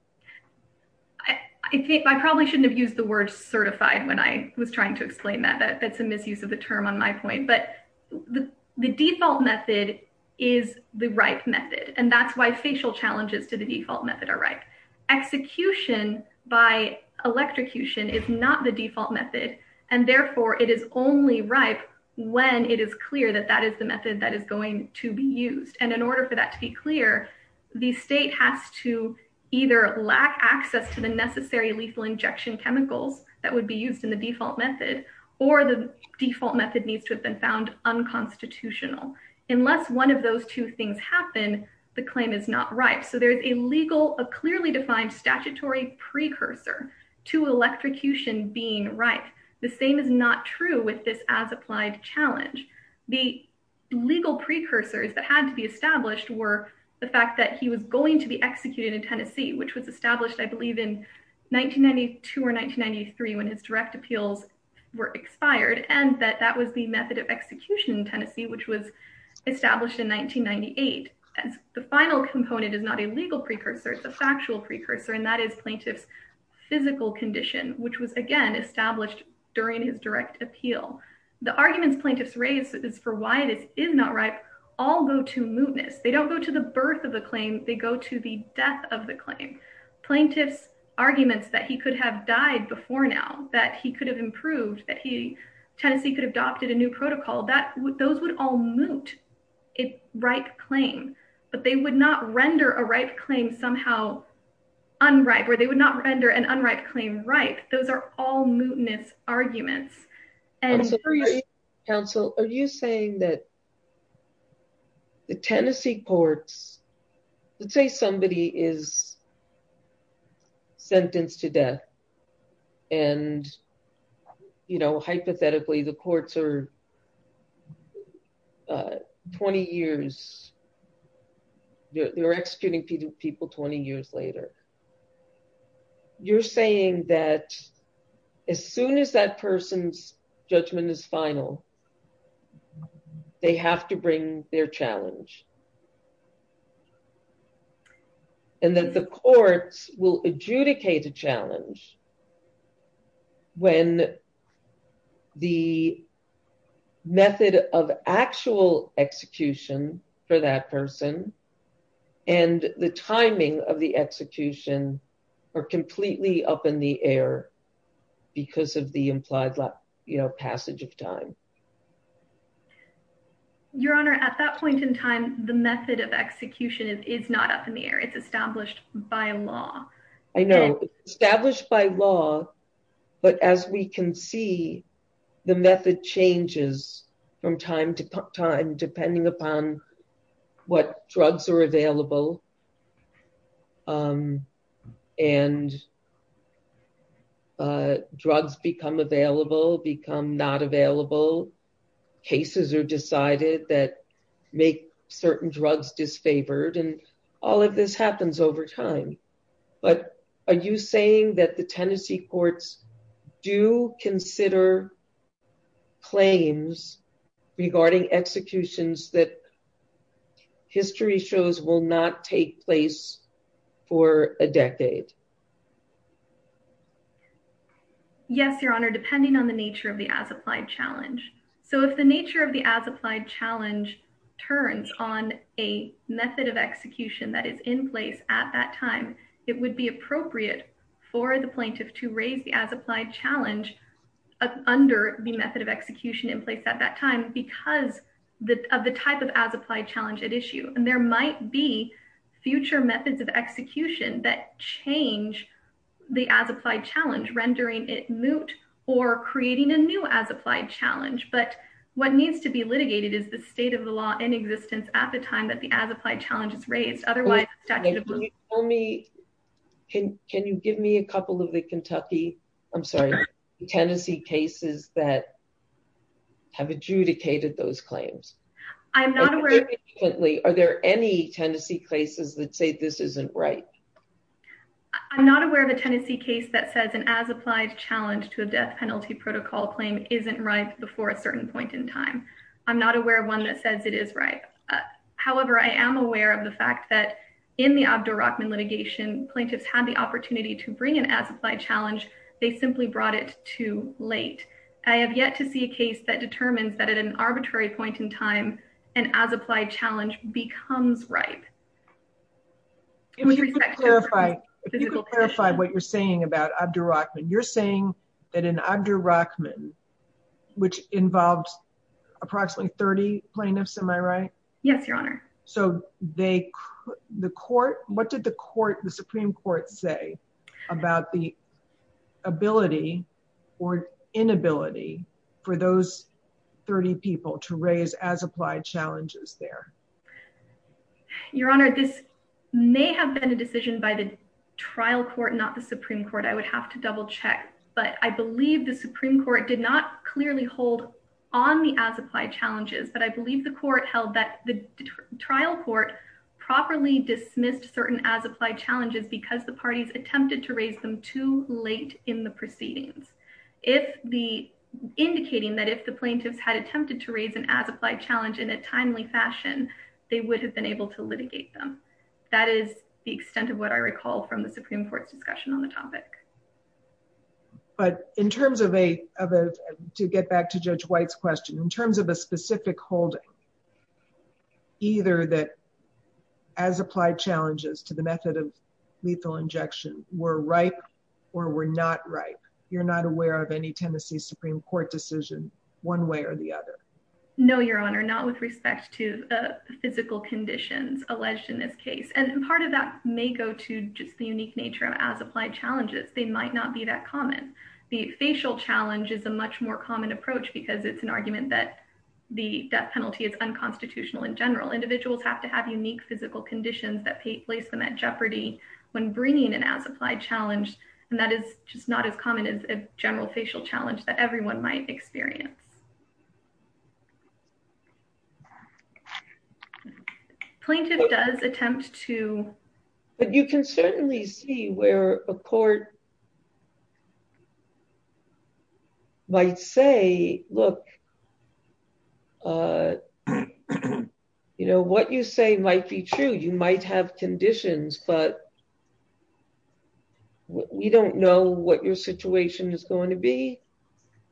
I probably shouldn't have used the word certified when I was trying to explain that, that's a misuse of the term on my point, but the default method is the ripe method, and that's why facial challenges to the default method are ripe. Execution by electrocution is not the default method, and therefore it is only ripe when it is clear that that is the method that is going to be used, and in order for that to be clear, the state has to either lack access to the necessary lethal injection chemicals that would be used in the default method, or the default method needs to have been found unconstitutional. Unless one of those two things happen, the claim is not ripe. So there's a legal, a clearly defined statutory precursor to electrocution being ripe. The same is not true with this as-applied challenge. The legal precursors that had to be established were the fact that he was going to be executed in Tennessee, which was established, I believe, in 1992 or 1993 when his direct appeals were expired, and that that was the method of execution in Tennessee, which was established in 1998. And the final component is not a legal precursor, it's a factual precursor, and that is plaintiff's physical condition, which was again established during his direct appeal. The arguments plaintiffs raise is for why this is not ripe all go to mootness. They don't go to the birth of the claim, they go to the death of the claim. Plaintiff's arguments that he could have died before now, that he could have improved, that Tennessee could have adopted a new protocol, those would all moot a ripe claim, but they would not render a ripe claim somehow unripe, or they would not render an unripe claim ripe. Those are all mootness arguments. And counsel, are you saying that the Tennessee courts, let's say somebody is sentenced to death. And, you know, hypothetically, the courts are 20 years, you're executing people 20 years later. You're saying that as soon as that person's judgment is final, they have to bring their challenge. And then the courts will adjudicate a challenge when the method of actual execution for that person and the timing of the execution are completely up in the air, because of the implied passage of time. Your Honor, at that point in time, the method of execution is not up in the air, it's established by law. I know, established by law. But as we can see, the method changes from time to time, depending upon what drugs are available. And drugs become available, become not available. Cases are decided that make certain drugs disfavored. And all of this happens over time. But are you saying that the Tennessee courts do consider claims regarding executions that history shows will not take place for a decade? Yes, Your Honor, depending on the nature of the as applied challenge. So if the nature of the as applied challenge turns on a method of execution that is in place at that time, it would be appropriate for the plaintiff to raise the as applied challenge under the method of execution in place at that time, because of the type of as applied challenge at issue. And there might be future methods of execution that change the as applied challenge, rendering it moot or creating a new as applied challenge. But what needs to be litigated is the state of the law in existence at the time that the as applied challenge is raised. Can you give me a couple of the Tennessee cases that have adjudicated those claims? Are there any Tennessee cases that say this isn't right? I'm not aware of a Tennessee case that says an as applied challenge to a death penalty protocol claim isn't right before a certain point in time. I'm not aware of one that says it is right. However, I am aware of the fact that in the Abdur Rahman litigation, plaintiffs had the opportunity to bring an as applied challenge. They simply brought it too late. I have yet to see a case that determines that at an arbitrary point in time, an as applied challenge becomes right. If you could clarify what you're saying about Abdur Rahman. You're saying that in Abdur Rahman, which involves approximately 30 plaintiffs, am I right? Yes, Your Honor. So what did the Supreme Court say about the ability or inability for those 30 people to raise as applied challenges there? Your Honor, this may have been a decision by the trial court, not the Supreme Court. I would have to double check. But I believe the Supreme Court did not clearly hold on the as applied challenges. But I believe the trial court properly dismissed certain as applied challenges because the parties attempted to raise them too late in the proceedings, indicating that if the plaintiffs had attempted to raise an as applied challenge in a timely fashion, they would have been able to litigate them. That is the extent of what I recall from the Supreme Court's discussion on the topic. But to get back to Judge White's question, in terms of a specific holding, either that as applied challenges to the method of lethal injection were right or were not right, you're not aware of any Tennessee Supreme Court decision one way or the other? No, Your Honor, not with respect to physical conditions alleged in this case. And part of that may go to just the unique nature of as applied challenges. They might not be that common. The facial challenge is a much more common approach because it's an argument that the death penalty is unconstitutional in general. Individuals have to have unique physical conditions that place them at jeopardy when bringing an as applied challenge. And that is just not as common as a general facial challenge that everyone might experience. Plaintiff does attempt to. But you can certainly see where a court might say, look, you know, what you say might be true. You might have conditions, but we don't know what your situation is going to be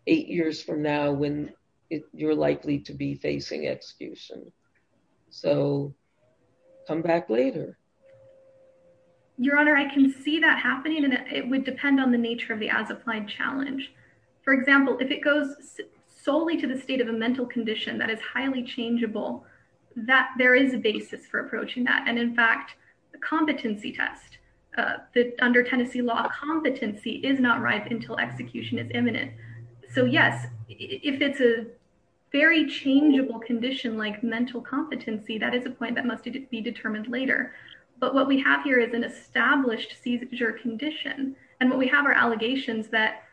eight years from now when you're likely to be facing execution. So come back later. Your Honor, I can see that happening, and it would depend on the nature of the as applied challenge. For example, if it goes solely to the state of a mental condition that is highly changeable, that there is a basis for approaching that. And in fact, the competency test under Tennessee law competency is not right until execution is imminent. So, yes, if it's a very changeable condition like mental competency, that is a point that must be determined later. But what we have here is an established seizure condition. And what we have are allegations that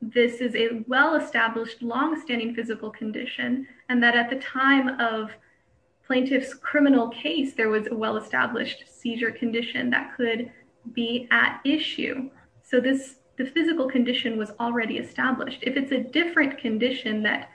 this is a well-established, longstanding physical condition, and that at the time of plaintiff's criminal case, there was a well-established seizure condition that could be at issue. So this the physical condition was already established. If it's a different condition that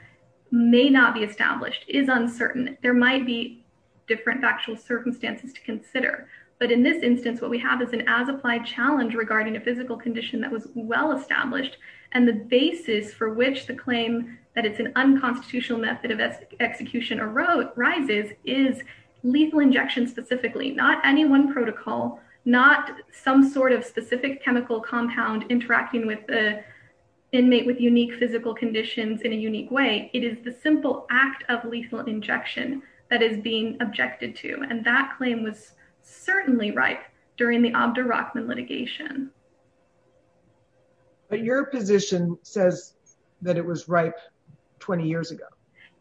may not be established is uncertain. There might be different factual circumstances to consider. But in this instance, what we have is an as applied challenge regarding a physical condition that was well-established. And the basis for which the claim that it's an unconstitutional method of execution arises is lethal injection specifically, not any one protocol, not some sort of specific chemical compound interacting with the inmate with unique physical conditions in a unique way. It is the simple act of lethal injection that is being objected to. And that claim was certainly ripe during the Abdo Rockman litigation. But your position says that it was ripe 20 years ago.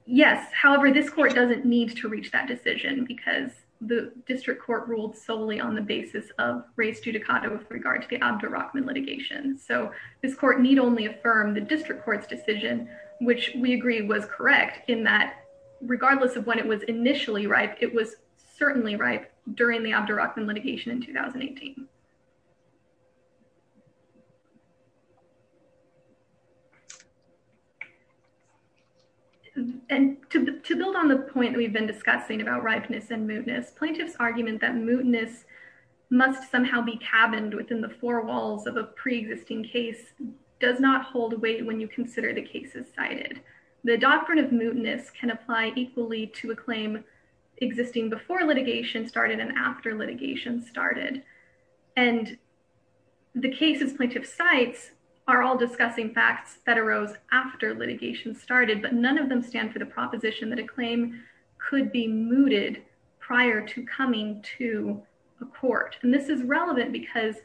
Yes. However, this court doesn't need to reach that decision because the district court ruled solely on the basis of res judicata with regard to the Abdo Rockman litigation. So this court need only affirm the district court's decision, which we agree was correct in that regardless of when it was initially ripe, it was certainly ripe during the Abdo Rockman litigation in 2018. And to build on the point that we've been discussing about ripeness and mootness, plaintiff's argument that mootness must somehow be cabined within the four walls of a pre-existing case does not hold weight when you consider the cases cited. The doctrine of mootness can apply equally to a claim existing before litigation started and after litigation started. And the cases plaintiff cites are all discussing facts that arose after litigation started, but none of them stand for the proposition that a claim could be mooted prior to coming to a court. And this is relevant because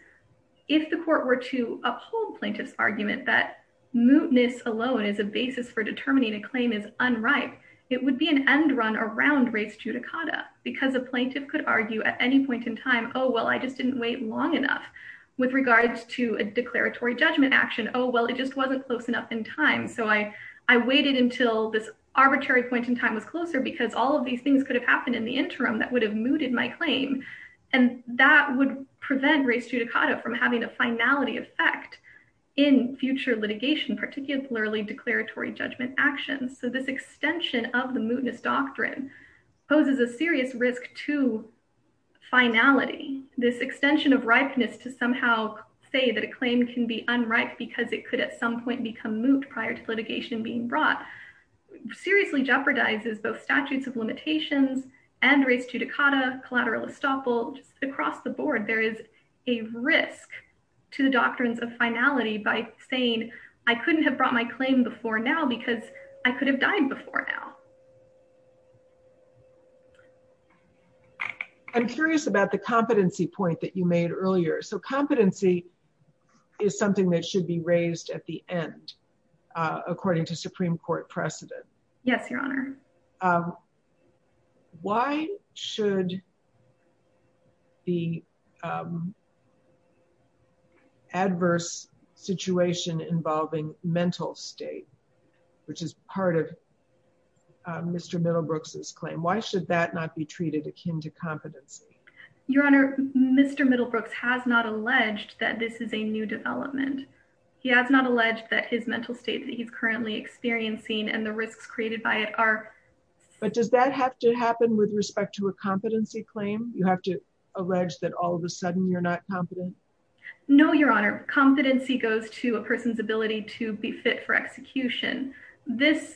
if the court were to uphold plaintiff's argument that mootness alone is a basis for determining a claim is unripe, it would be an end run around res judicata. Because a plaintiff could argue at any point in time, oh, well, I just didn't wait long enough. With regards to a declaratory judgment action, oh, well, it just wasn't close enough in time. So I waited until this arbitrary point in time was closer because all of these things could have happened in the interim that would have mooted my claim. And that would prevent res judicata from having a finality effect in future litigation, particularly declaratory judgment actions. So this extension of the mootness doctrine poses a serious risk to finality. This extension of ripeness to somehow say that a claim can be unripe because it could at some point become moot prior to litigation being brought seriously jeopardizes both statutes of limitations and res judicata collateral estoppel. Across the board, there is a risk to the doctrines of finality by saying, I couldn't have brought my claim before now because I could have died before now. I'm curious about the competency point that you made earlier. So competency is something that should be raised at the end, according to Supreme Court precedent. Yes, Your Honor. Why should the adverse situation involving mental state, which is part of Mr. Middlebrooks' claim, why should that not be treated akin to competency? Your Honor, Mr. Middlebrooks has not alleged that this is a new development. He has not alleged that his mental state that he's currently experiencing and the risks created by it are. But does that have to happen with respect to a competency claim? You have to allege that all of a sudden you're not competent. No, Your Honor. Competency goes to a person's ability to be fit for execution. This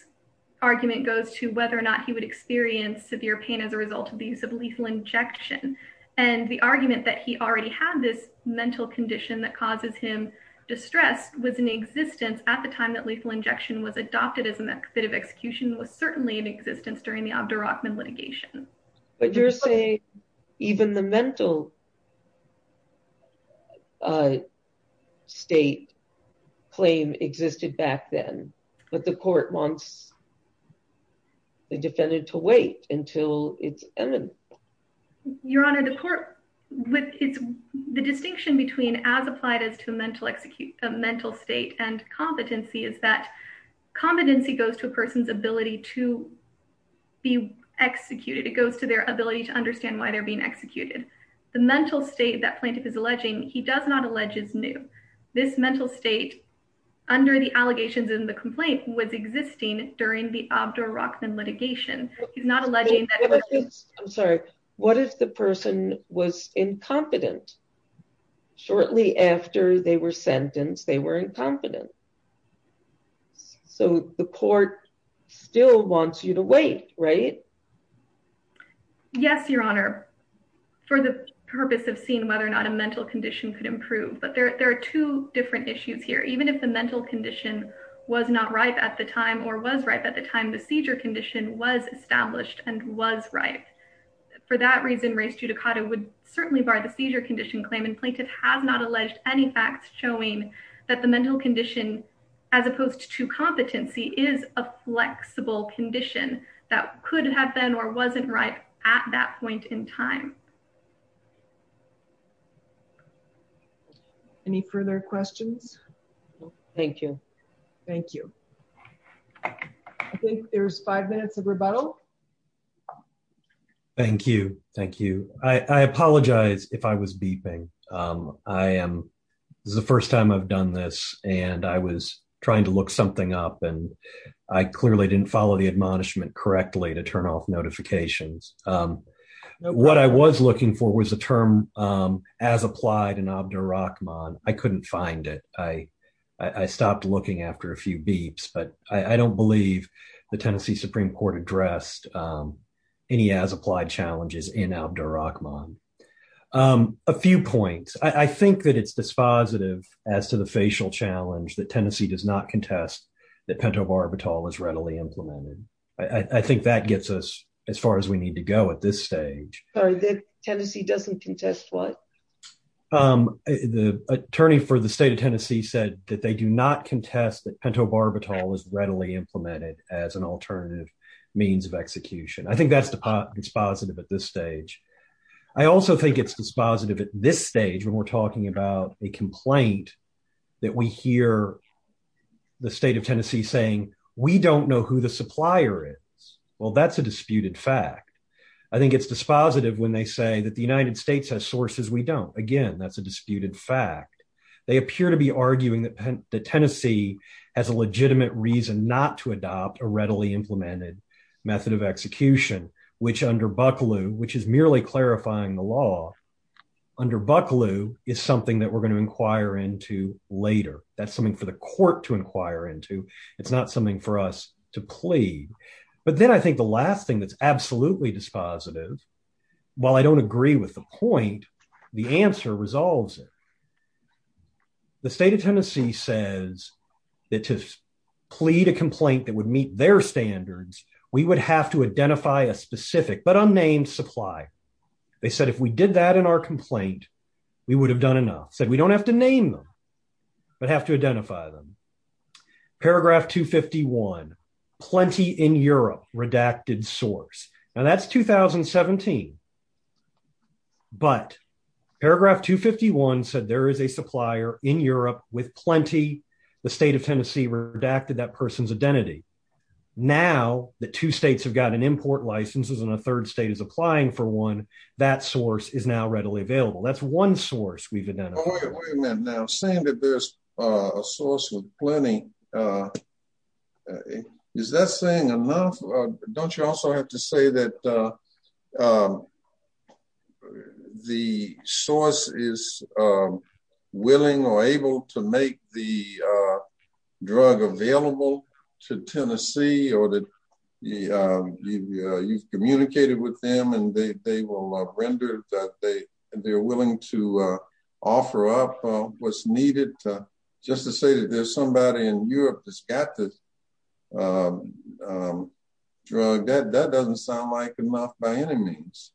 argument goes to whether or not he would experience severe pain as a result of the use of lethal injection. And the argument that he already had this mental condition that causes him distress was in existence at the time that lethal injection was adopted as a bit of execution was certainly in existence during the Abderrachman litigation. But you're saying even the mental state claim existed back then, but the court wants the defendant to wait until it's imminent. Your Honor, the court, the distinction between as applied as to a mental state and competency is that competency goes to a person's ability to be executed. It goes to their ability to understand why they're being executed. The mental state that plaintiff is alleging, he does not allege is new. This mental state under the allegations in the complaint was existing during the Abderrachman litigation. He's not alleging. I'm sorry. What if the person was incompetent? Shortly after they were sentenced, they were incompetent. So the court still wants you to wait, right? Yes, Your Honor. For the purpose of seeing whether or not a mental condition could improve. But there are two different issues here. Even if the mental condition was not ripe at the time or was ripe at the time, the seizure condition was established and was ripe. For that reason, race judicata would certainly bar the seizure condition claim. And plaintiff has not alleged any facts showing that the mental condition as opposed to competency is a flexible condition that could have been or wasn't right at that point in time. Any further questions? Thank you. Thank you. I think there's five minutes of rebuttal. Thank you. Thank you. I apologize if I was beeping. I am the first time I've done this. And I was trying to look something up. And I clearly didn't follow the admonishment correctly to turn off notifications. What I was looking for was a term as applied in Abdurrahman. I couldn't find it. I stopped looking after a few beeps. But I don't believe the Tennessee Supreme Court addressed any as applied challenges in Abdurrahman. A few points. I think that it's dispositive as to the facial challenge that Tennessee does not contest that pentobarbital is readily implemented. I think that gets us as far as we need to go at this stage. Sorry, that Tennessee doesn't contest what? The attorney for the state of Tennessee said that they do not contest that pentobarbital is readily implemented as an alternative means of execution. I think that's dispositive at this stage. I also think it's dispositive at this stage when we're talking about a complaint that we hear the state of Tennessee saying we don't know who the supplier is. Well, that's a disputed fact. I think it's dispositive when they say that the United States has sources we don't. Again, that's a disputed fact. They appear to be arguing that Tennessee has a legitimate reason not to adopt a readily implemented method of execution, which under Bucklew, which is merely clarifying the law under Bucklew is something that we're going to inquire into later. That's something for the court to inquire into. It's not something for us to plead. But then I think the last thing that's absolutely dispositive, while I don't agree with the point, the answer resolves it. The state of Tennessee says that to plead a complaint that would meet their standards, we would have to identify a specific but unnamed supply. They said if we did that in our complaint, we would have done enough. Said we don't have to name them, but have to identify them. Paragraph 251, plenty in Europe, redacted source. And that's 2017. But paragraph 251 said there is a supplier in Europe with plenty. The state of Tennessee redacted that person's identity. Now that two states have gotten import licenses and a third state is applying for one, that source is now readily available. That's one source we've identified. Now saying that there's a source with plenty, is that saying enough? Don't you also have to say that the source is willing or able to make the drug available to Tennessee or that you've communicated with them and they will render that they're willing to offer up what's needed? Just to say that there's somebody in Europe that's got the drug, that doesn't sound like enough by any means.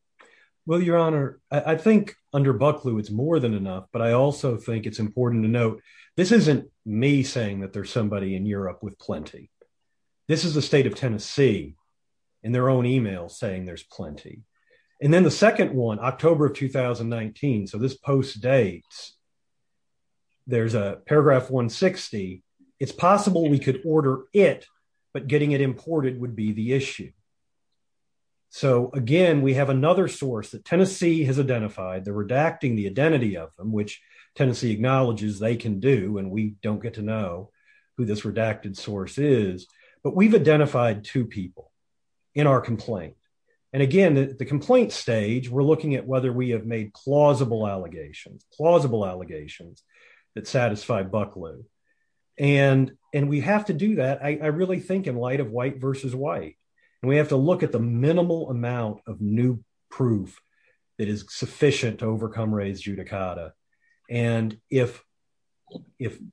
Well, Your Honor, I think under Bucklew, it's more than enough. But I also think it's important to note, this isn't me saying that there's somebody in Europe with plenty. This is the state of Tennessee in their own email saying there's plenty. And then the second one, October of 2019, so this post dates, there's a paragraph 160. It's possible we could order it, but getting it imported would be the issue. So again, we have another source that Tennessee has identified. They're redacting the identity of them, which Tennessee acknowledges they can do and we don't get to know who this redacted source is. But we've identified two people in our complaint. And again, the complaint stage, we're looking at whether we have made plausible allegations, plausible allegations that satisfy Bucklew. And we have to do that, I really think in light of white versus white. And we have to look at the minimal amount of new proof that is sufficient to overcome raised judicata. And if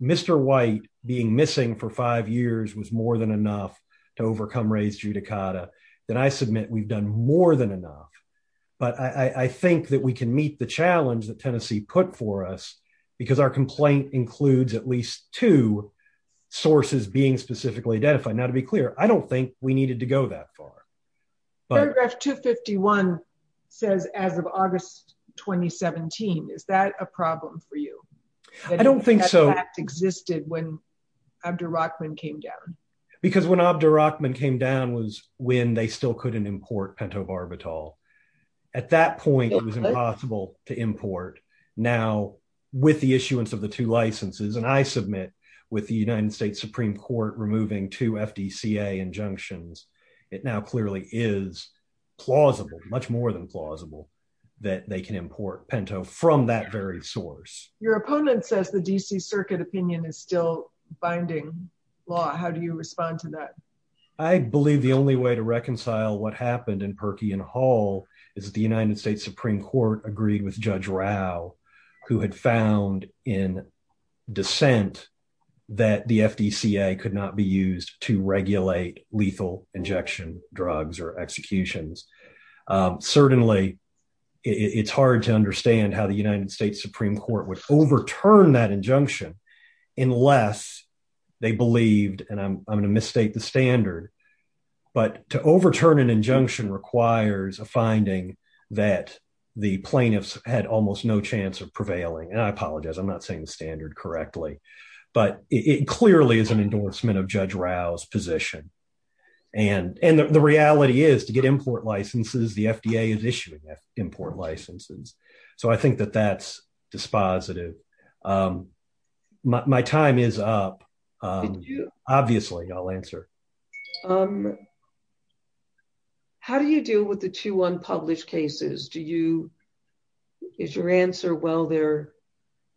Mr. White being missing for five years was more than enough to overcome raised judicata, then I submit we've done more than enough. But I think that we can meet the challenge that Tennessee put for us because our complaint includes at least two sources being specifically identified. Now, to be clear, I don't think we needed to go that far. But paragraph 251 says as of August 2017, is that a problem for you? I don't think so. That existed when Abderrahman came down. Because when Abderrahman came down was when they still couldn't import Pento Barbitol. At that point, it was impossible to import. Now, with the issuance of the two licenses, and I submit with the United States Supreme Court removing two FDCA injunctions, it now clearly is plausible, much more than plausible, that they can import Pento from that very source. Your opponent says the D.C. Circuit opinion is still binding law. How do you respond to that? I believe the only way to reconcile what happened in Perky and Hall is the United States Supreme Court agreed with Judge Rao, who had found in dissent that the FDCA could not be used to regulate lethal injection drugs or executions. Certainly, it's hard to understand how the United States Supreme Court would overturn that injunction unless they believed, and I'm going to misstate the standard, but to overturn an injunction requires a finding that the plaintiffs had almost no chance of prevailing. And I apologize, I'm not saying the standard correctly. But it clearly is an endorsement of Judge Rao's position. And the reality is to get import licenses, the FDA is issuing import licenses. So I think that that's dispositive. My time is up. Obviously, I'll answer. How do you deal with the two unpublished cases? Is your answer, well, they're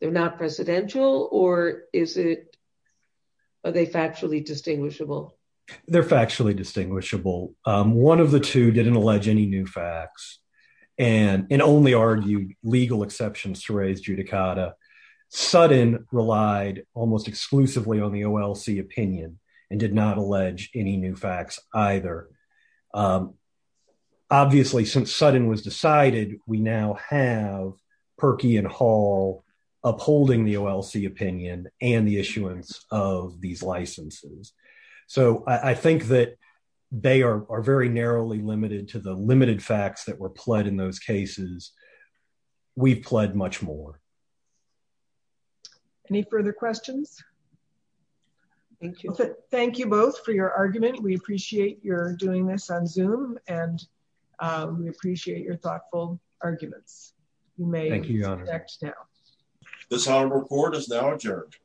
not presidential, or are they factually distinguishable? They're factually distinguishable. One of the two didn't allege any new facts. And it only argued legal exceptions to raise judicata. Sutton relied almost exclusively on the OLC opinion and did not allege any new facts either. Obviously, since Sutton was decided, we now have Perkey and Hall upholding the OLC opinion and the issuance of these licenses. So I think that they are very narrowly limited to the limited facts that were pled in those cases. We've pled much more. Any further questions? Thank you. Thank you both for your argument. We appreciate your doing this on Zoom. And we appreciate your thoughtful arguments. Thank you, Your Honor. This report is now adjourned.